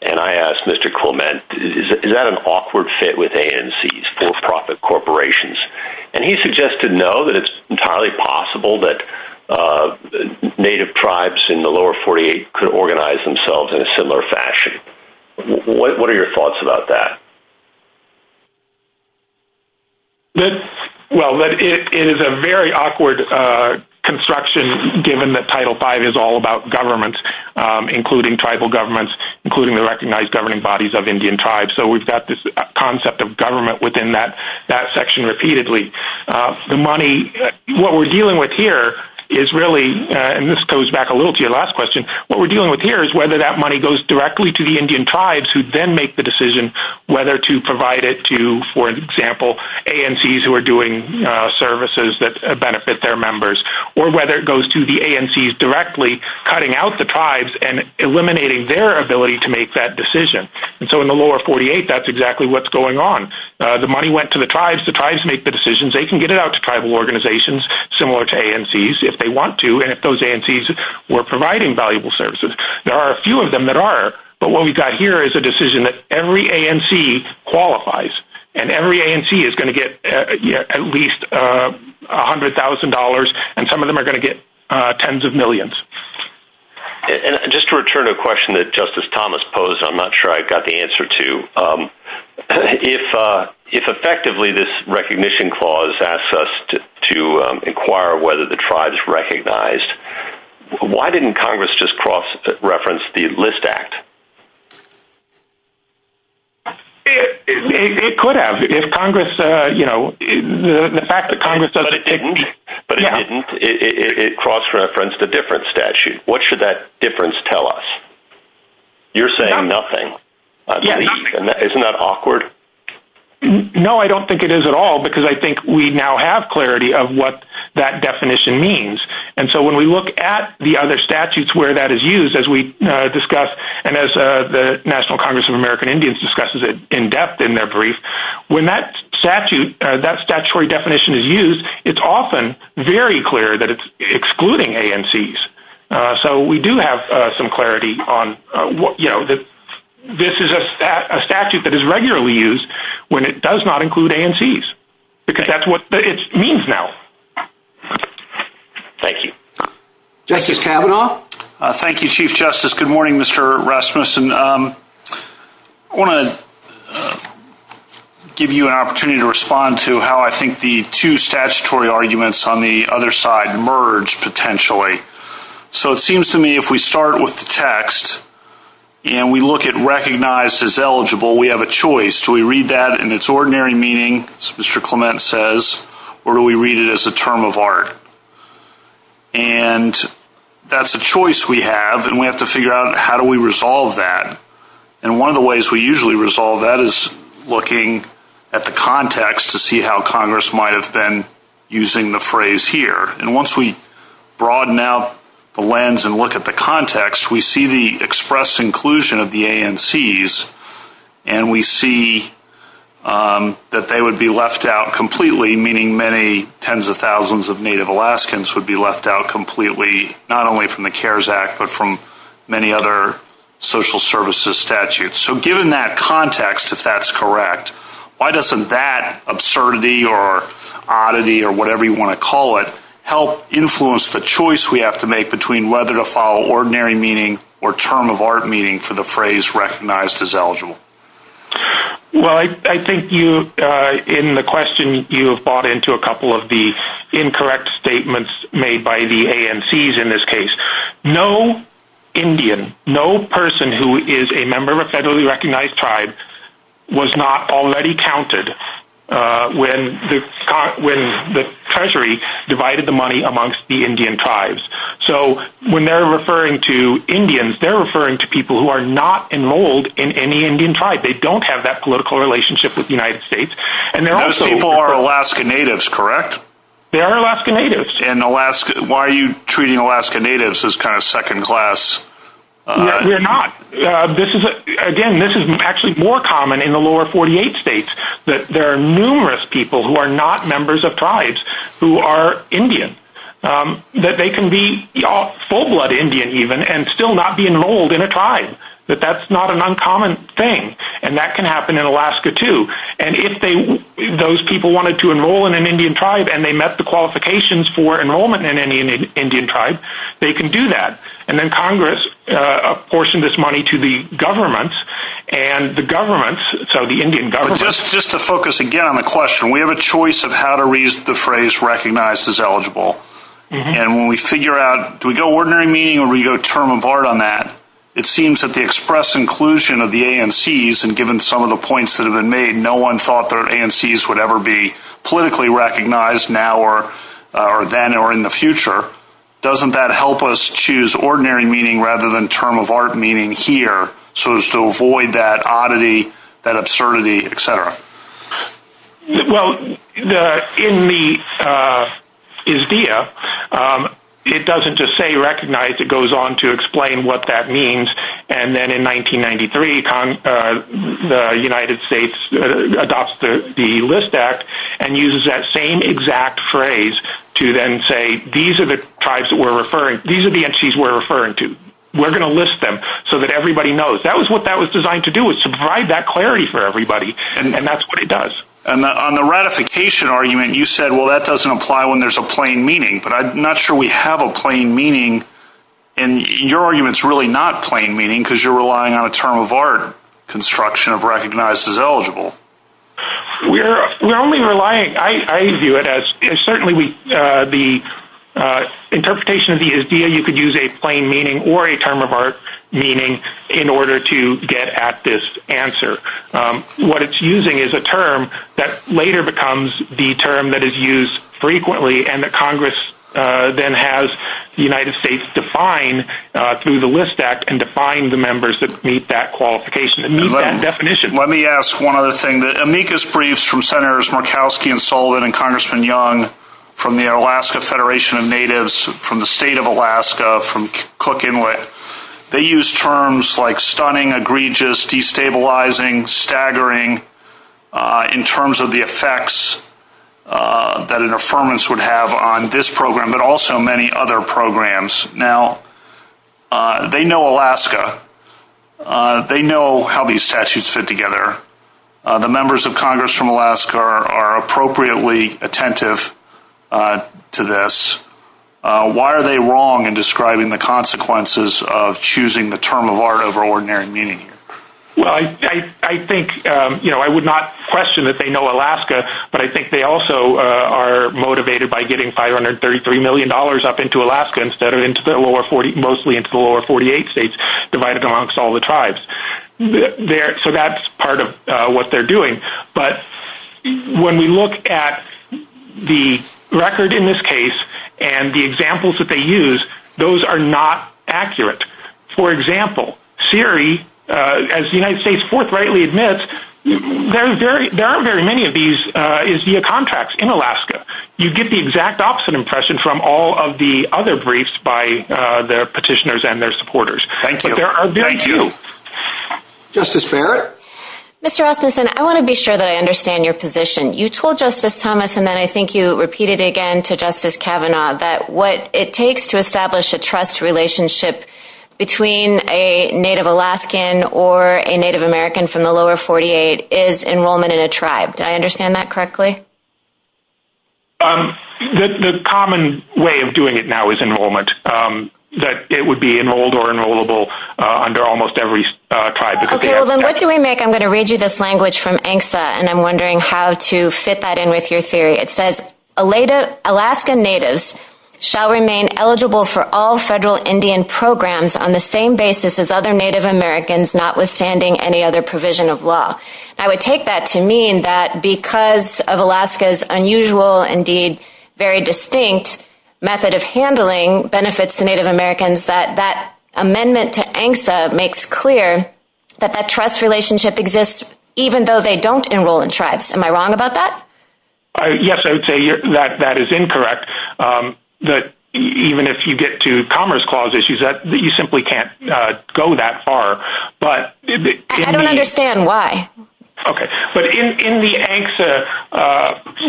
and I asked Mr. Clement, is that an awkward fit with ANCs, for-profit corporations? And he suggested no, that it's entirely possible that Native tribes in the lower 48 could organize themselves in a similar fashion. What are your thoughts about that? Well, it is a very awkward construction, given that Title V is all about government, including tribal governments, including the recognized governing bodies of Indian tribes. So we've got this concept of government within that section repeatedly. The money, what we're dealing with here is really, and this goes back a little to your last question, what we're dealing with here is whether that money goes directly to the Indian tribes who then make the decision whether to provide it to, for example, ANCs who are doing services that benefit their members, or whether it goes to the ANCs directly, cutting out the tribes and eliminating their ability to make that decision. And so in the lower 48, that's exactly what's going on. The money went to the tribes. The tribes make the decisions. They can get it out to tribal organizations, similar to ANCs, if they want to, and if those ANCs were providing valuable services. There are a few of them that are, but what we've got here is a decision that every ANC qualifies, and every ANC is going to get at least $100,000, and some of them are going to get tens of millions. And just to return to a question that Justice Thomas posed, I'm not sure I got the answer to, if effectively this recognition clause asks us to inquire whether the tribes recognized, why didn't Congress just cross-reference the List Act? It could have. If Congress, you know, the fact that Congress doesn't change. But it didn't. It cross-referenced a different statute. What should that difference tell us? You're saying nothing. Isn't that awkward? No, I don't think it is at all, because I think we now have clarity of what that definition means. And so when we look at the other statutes where that is used, as we discussed, and as the National Congress of American Indians discusses it in depth in their brief, when that statute, that statutory definition is used, it's often very clear that it's excluding ANCs. So we do have some clarity on, you know, this is a statute that is regularly used when it does not include ANCs, because that's what it means now. Thank you. Justice Kavanaugh. Thank you, Chief Justice. Good morning, Mr. Rasmussen. I want to give you an opportunity to respond to how I think the two statutory arguments on the other side merge, potentially. So it seems to me if we start with the text, and we look at recognized as eligible, we have a choice. Do we read that in its ordinary meaning, as Mr. Clement says, or do we read it as a term of art? And that's a choice we have, and we have to figure out how do we resolve that. And one of the ways we usually resolve that is looking at the context to see how Congress might have been using the phrase here. And once we broaden out the lens and look at the context, we see the express inclusion of the ANCs, and we see that they would be left out completely, meaning many tens of thousands of Native Alaskans would be left out completely, not only from the CARES Act, but from many other social services statutes. So given that context, if that's correct, why doesn't that absurdity or oddity or whatever you want to call it, help influence the choice we have to make between whether to follow ordinary meaning or term of art meaning for the phrase recognized as eligible? Well, I think in the question you have bought into a couple of the incorrect statements made by the ANCs in this case. No Indian, no person who is a member of a federally recognized tribe was not already counted when the Treasury divided the money amongst the Indian tribes. So when they're referring to Indians, they're referring to people who are not enrolled in any Indian tribe. They don't have that political relationship with the United States. Those people are Alaska Natives, correct? They are Alaska Natives. And why are you treating Alaska Natives as kind of second class? We're not. Again, this is actually more common in the lower 48 states, that there are numerous people who are not members of tribes who are Indian, that they can be full-blood Indian even and still not be enrolled in a tribe, that that's not an uncommon thing. And that can happen in Alaska too. And if those people wanted to enroll in an Indian tribe and they met the qualifications for enrollment in an Indian tribe, they can do that. And then Congress apportioned this money to the governments, and the governments, so the Indian governments. Just to focus again on the question, we have a choice of how to use the phrase recognized as eligible. And when we figure out, do we go ordinary meaning or do we go term of art on that, it seems that the express inclusion of the ANCs, and given some of the points that have been made, no one thought that ANCs would ever be politically recognized now or then or in the future. Doesn't that help us choose ordinary meaning rather than term of art meaning here, so as to avoid that oddity, that absurdity, et cetera? Well, in the ISDEA, it doesn't just say recognized. It goes on to explain what that means. And then in 1993, the United States adopts the List Act and uses that same exact phrase to then say, these are the tribes that we're referring, these are the ANCs we're referring to. We're going to list them so that everybody knows. That was what that was designed to do, is provide that clarity for everybody, and that's what it does. And on the ratification argument, you said, well, that doesn't apply when there's a plain meaning. But I'm not sure we have a plain meaning, and your argument is really not plain meaning because you're relying on a term of art construction of recognized as eligible. We're only relying, I view it as certainly the interpretation of the ISDEA, you could use a plain meaning or a term of art meaning in order to get at this answer. What it's using is a term that later becomes the term that is used frequently and that Congress then has the United States define through the List Act and define the members that meet that qualification and meet that definition. Let me ask one other thing. The amicus briefs from Senators Murkowski and Sullivan and Congressman Young from the Alaska Federation of Natives, from the state of Alaska, from Cook Inlet, they use terms like stunning, egregious, destabilizing, staggering, in terms of the effects that an affirmance would have on this program, but also many other programs. Now, they know Alaska. They know how these statutes fit together. The members of Congress from Alaska are appropriately attentive to this. Why are they wrong in describing the consequences of choosing the term of art over ordinary meaning? Well, I think I would not question that they know Alaska, but I think they also are motivated by getting $533 million up into Alaska instead of mostly into the lower 48 states divided amongst all the tribes. So that's part of what they're doing. But when we look at the record in this case and the examples that they use, those are not accurate. For example, Siri, as the United States Fourth rightly admits, there are very many of these via contracts in Alaska. You get the exact opposite impression from all of the other briefs by their petitioners and their supporters. Thank you. Thank you. Justice Barrett? Mr. Osmundson, I want to be sure that I understand your position. You told Justice Thomas, and then I think you repeated it again to Justice Kavanaugh, that what it takes to establish a trust relationship between a Native Alaskan or a Native American from the lower 48 is enrollment in a tribe. Did I understand that correctly? The common way of doing it now is enrollment, that it would be enrolled or enrollable under almost every tribe. Okay, well then what do we make? I'm going to read you this language from ANCSA, and I'm wondering how to fit that in with your theory. It says, Alaska Natives shall remain eligible for all federal Indian programs on the same basis as other Native Americans, notwithstanding any other provision of law. I would take that to mean that because of Alaska's unusual, indeed very distinct method of handling benefits to Native Americans, that that amendment to ANCSA makes clear that that trust relationship exists even though they don't enroll in tribes. Am I wrong about that? Yes, I would say that that is incorrect. Even if you get to Commerce Clause issues, you simply can't go that far. I don't understand why. Okay, but in the ANCSA,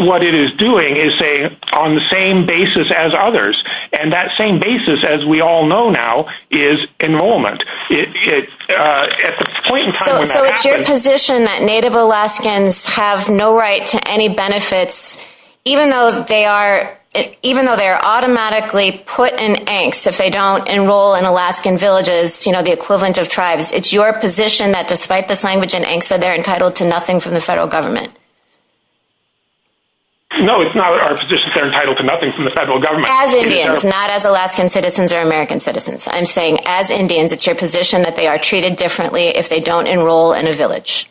what it is doing is saying on the same basis as others, and that same basis, as we all know now, is enrollment. So it's your position that Native Alaskans have no right to any benefits, even though they are automatically put in ANCSA if they don't enroll in Alaskan villages, you know, the equivalent of tribes. It's your position that despite this language in ANCSA, they're entitled to nothing from the federal government. No, it's not our position that they're entitled to nothing from the federal government. As Indians, not as Alaskan citizens or American citizens. I'm saying as Indians, it's your position that they are treated differently if they don't enroll in a village.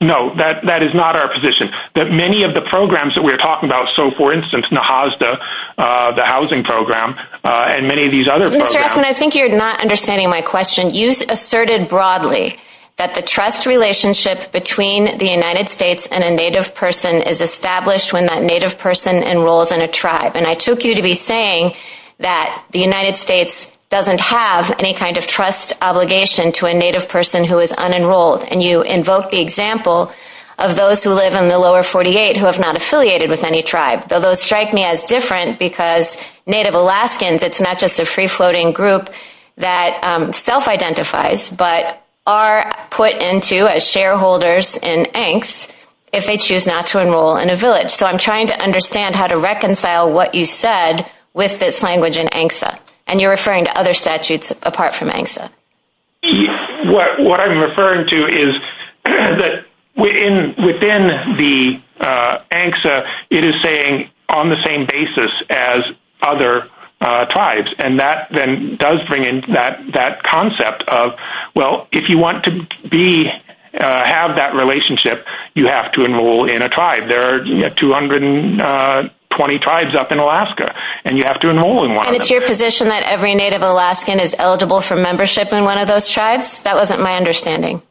No, that is not our position. Many of the programs that we're talking about, so, for instance, NAHASDA, the housing program, and many of these other programs. Mr. Ecklund, I think you're not understanding my question. You asserted broadly that the trust relationship between the United States and a Native person is established when that Native person enrolls in a tribe. And I took you to be saying that the United States doesn't have any kind of trust obligation to a Native person who is unenrolled, and you invoke the example of those who live in the lower 48 who have not affiliated with any tribe. Those strike me as different because Native Alaskans, it's not just a free-floating group that self-identifies, but are put into as shareholders in ANCSA if they choose not to enroll in a village. So I'm trying to understand how to reconcile what you said with this language in ANCSA, and you're referring to other statutes apart from ANCSA. What I'm referring to is that within the ANCSA, it is saying on the same basis as other tribes, and that then does bring in that concept of, well, if you want to have that relationship, you have to enroll in a tribe. There are 220 tribes up in Alaska, and you have to enroll in one of them. And it's your position that every Native Alaskan is eligible for membership in one of those tribes? That wasn't my understanding.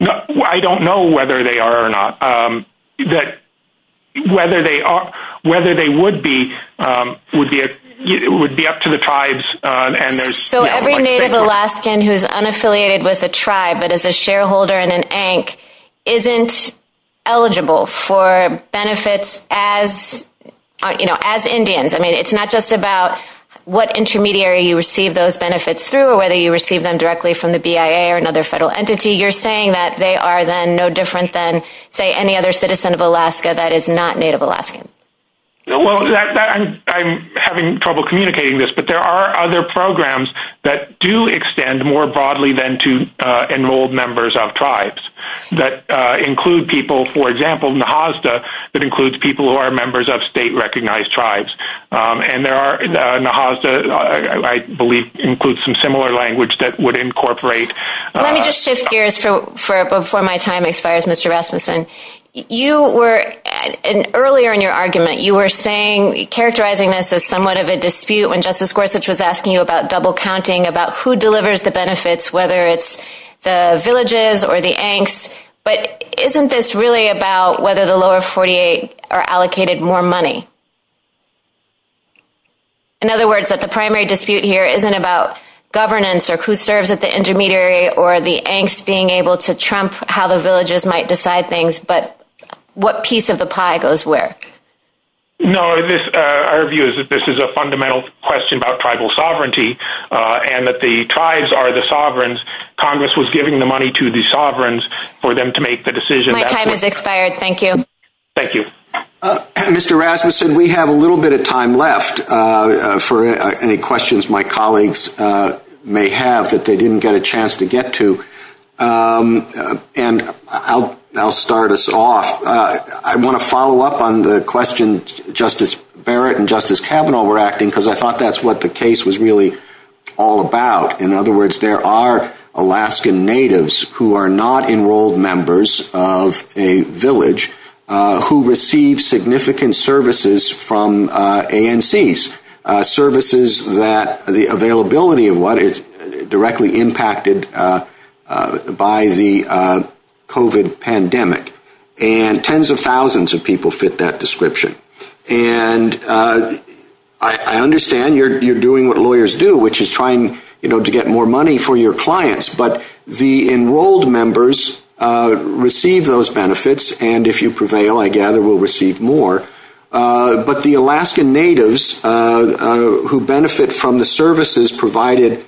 I don't know whether they are or not. Whether they would be would be up to the tribes. So every Native Alaskan who is unaffiliated with a tribe that is a shareholder in an ANC isn't eligible for benefits as Indians. I mean, it's not just about what intermediary you receive those benefits through or whether you receive them directly from the BIA or another federal entity. You're saying that they are then no different than, say, any other citizen of Alaska that is not Native Alaskan. Well, I'm having trouble communicating this, but there are other programs that do extend more broadly than to enrolled members of tribes that include people, for example, NAHASDA, that includes people who are members of state-recognized tribes. And NAHASDA, I believe, includes some similar language that would incorporate. Let me just shift gears before my time expires, Mr. Rasmussen. Earlier in your argument, you were saying, characterizing this as somewhat of a dispute when Justice Gorsuch was asking you about double-counting, about who delivers the benefits, whether it's the villages or the ANCs. But isn't this really about whether the lower 48 are allocated more money? In other words, that the primary dispute here isn't about governance or who serves at the intermediary or the ANCs being able to trump how the villages might decide things, but what piece of the pie goes where. No, our view is that this is a fundamental question about tribal sovereignty and that the tribes are the sovereigns. Congress was giving the money to the sovereigns for them to make the decision. My time has expired. Thank you. Thank you. Mr. Rasmussen, we have a little bit of time left for any questions my colleagues may have that they didn't get a chance to get to, and I'll start us off. I want to follow up on the questions Justice Barrett and Justice Kavanaugh were asking because I thought that's what the case was really all about. In other words, there are Alaskan Natives who are not enrolled members of a village who receive significant services from ANCs, services that the availability of what is directly impacted by the COVID pandemic. And tens of thousands of people fit that description. And I understand you're doing what lawyers do, which is trying to get more money for your clients, but the enrolled members receive those benefits, and if you prevail, I gather, will receive more. But the Alaskan Natives who benefit from the services provided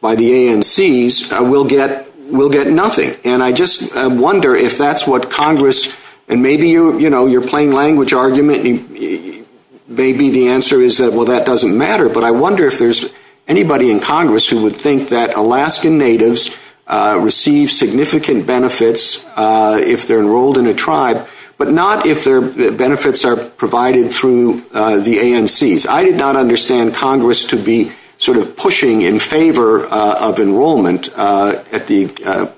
by the ANCs will get nothing. And I just wonder if that's what Congress, and maybe your plain language argument, maybe the answer is that, well, that doesn't matter, but I wonder if there's anybody in Congress who would think that Alaskan Natives receive significant benefits if they're enrolled in a tribe, but not if their benefits are provided through the ANCs. I did not understand Congress to be sort of pushing in favor of enrollment at the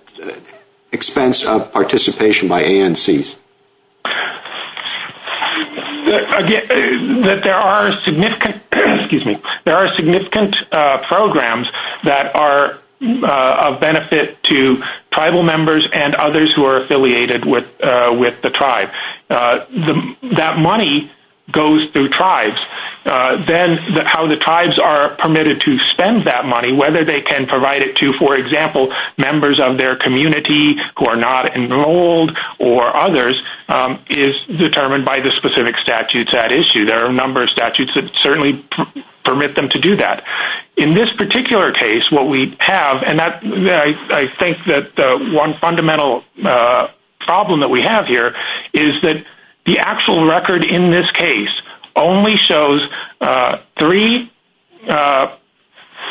expense of participation by ANCs. There are significant programs that are of benefit to tribal members and others who are affiliated with the tribe. That money goes through tribes. Then how the tribes are permitted to spend that money, whether they can provide it to, for example, members of their community who are not enrolled or others is determined by the specific statutes at issue. There are a number of statutes that certainly permit them to do that. In this particular case, what we have, and I think that one fundamental problem that we have here is that the actual record in this case only shows three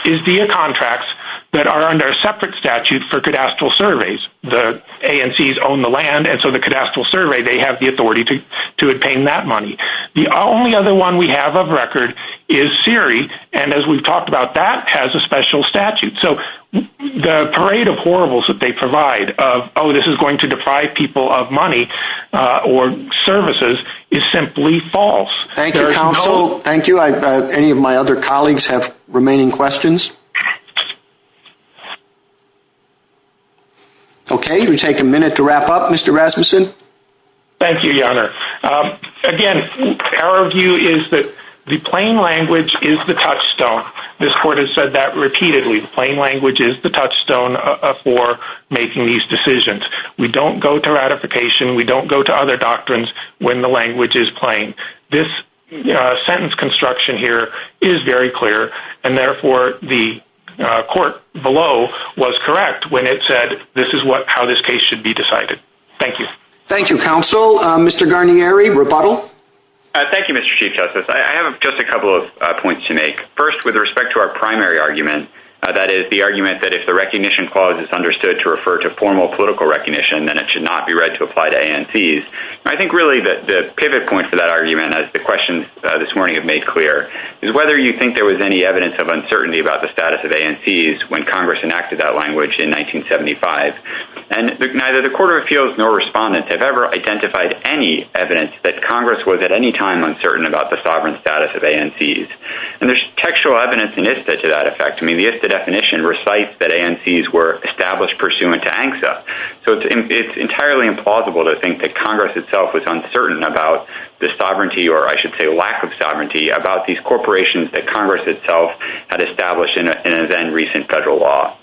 ISDEA contracts that are under a separate statute for cadastral surveys. The ANCs own the land, and so the cadastral survey, they have the authority to obtain that money. The only other one we have of record is CERI, and as we've talked about, that has a special statute. The parade of horribles that they provide of, oh, this is going to deprive people of money or services is simply false. Thank you, counsel. Thank you. Any of my other colleagues have remaining questions? Okay, we take a minute to wrap up. Mr. Rasmussen? Thank you, Your Honor. Again, our view is that the plain language is the touchstone. This court has said that repeatedly. The plain language is the touchstone for making these decisions. We don't go to ratification. We don't go to other doctrines when the language is plain. This sentence construction here is very clear, and therefore, the court below was correct when it said this is how this case should be decided. Thank you. Thank you, counsel. Mr. Guarnieri, rebuttal? Thank you, Mr. Chief Justice. I have just a couple of points to make. First, with respect to our primary argument, that is, the argument that if the recognition clause is understood to refer to formal political recognition, then it should not be read to apply to ANCs. I think really the pivot point for that argument, as the questions this morning have made clear, is whether you think there was any evidence of uncertainty about the status of ANCs when Congress enacted that language in 1975. Neither the court of appeals nor respondents have ever identified any evidence that Congress was at any time uncertain about the sovereign status of ANCs. And there's textual evidence in ISTA to that effect. I mean, the ISTA definition recites that ANCs were established pursuant to ANCSA. So it's entirely implausible to think that Congress itself was uncertain about the sovereignty or, I should say, lack of sovereignty about these corporations that Congress itself had established in a then-recent federal law.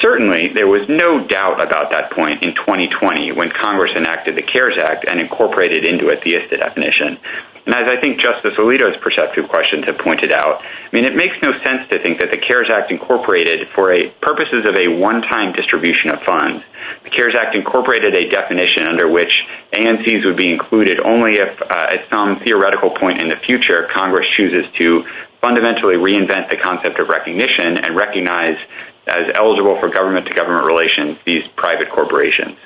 Certainly, there was no doubt about that point in 2020 when Congress enacted the CARES Act and incorporated into it the ISTA definition. And as I think Justice Alito's perceptive questions have pointed out, I mean, it makes no sense to think that the CARES Act incorporated for purposes of a one-time distribution of fines. The CARES Act incorporated a definition under which ANCs would be included only if, at some theoretical point in the future, Congress chooses to fundamentally reinvent the concept of recognition and recognize as eligible for government-to-government relations these private corporations.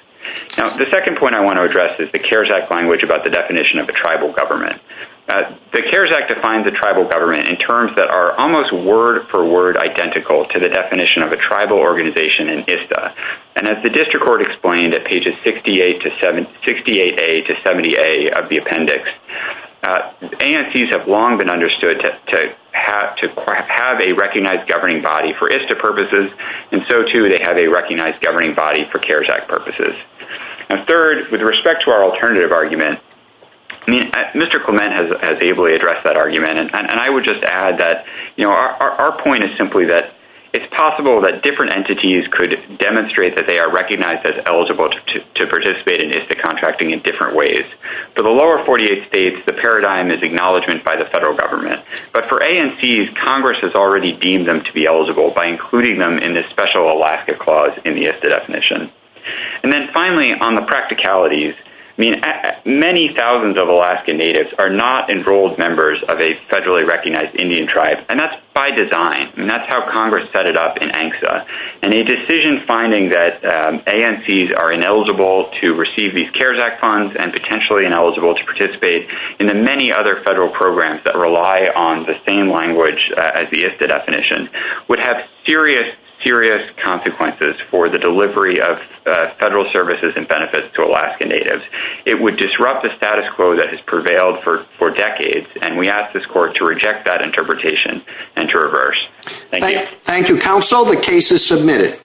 Now, the second point I want to address is the CARES Act language about the definition of a tribal government. The CARES Act defines a tribal government in terms that are almost word-for-word identical to the definition of a tribal organization in ISTA. And as the district court explained at pages 68A to 70A of the appendix, ANCs have long been understood to have a recognized governing body for ISTA purposes, and so, too, they have a recognized governing body for CARES Act purposes. And third, with respect to our alternative argument, I mean, Mr. Clement has ably addressed that argument. And I would just add that, you know, our point is simply that it's possible that different entities could demonstrate that they are recognized as eligible to participate in ISTA contracting in different ways. For the lower 48 states, the paradigm is acknowledgement by the federal government. But for ANCs, Congress has already deemed them to be eligible by including them in this special Alaska clause in the ISTA definition. And then, finally, on the practicalities, I mean, many thousands of Alaska Natives are not enrolled members of a federally recognized Indian tribe. And that's by design. And that's how Congress set it up in ANCSA. And a decision finding that ANCs are ineligible to receive these CARES Act funds and potentially ineligible to participate in the many other federal programs that rely on the same language as the ISTA definition would have serious, serious consequences for the delivery of federal services and benefits to Alaska Natives. It would disrupt the status quo that has prevailed for decades. And we ask this court to reject that interpretation and to reverse. Thank you. Thank you, counsel. The case is submitted.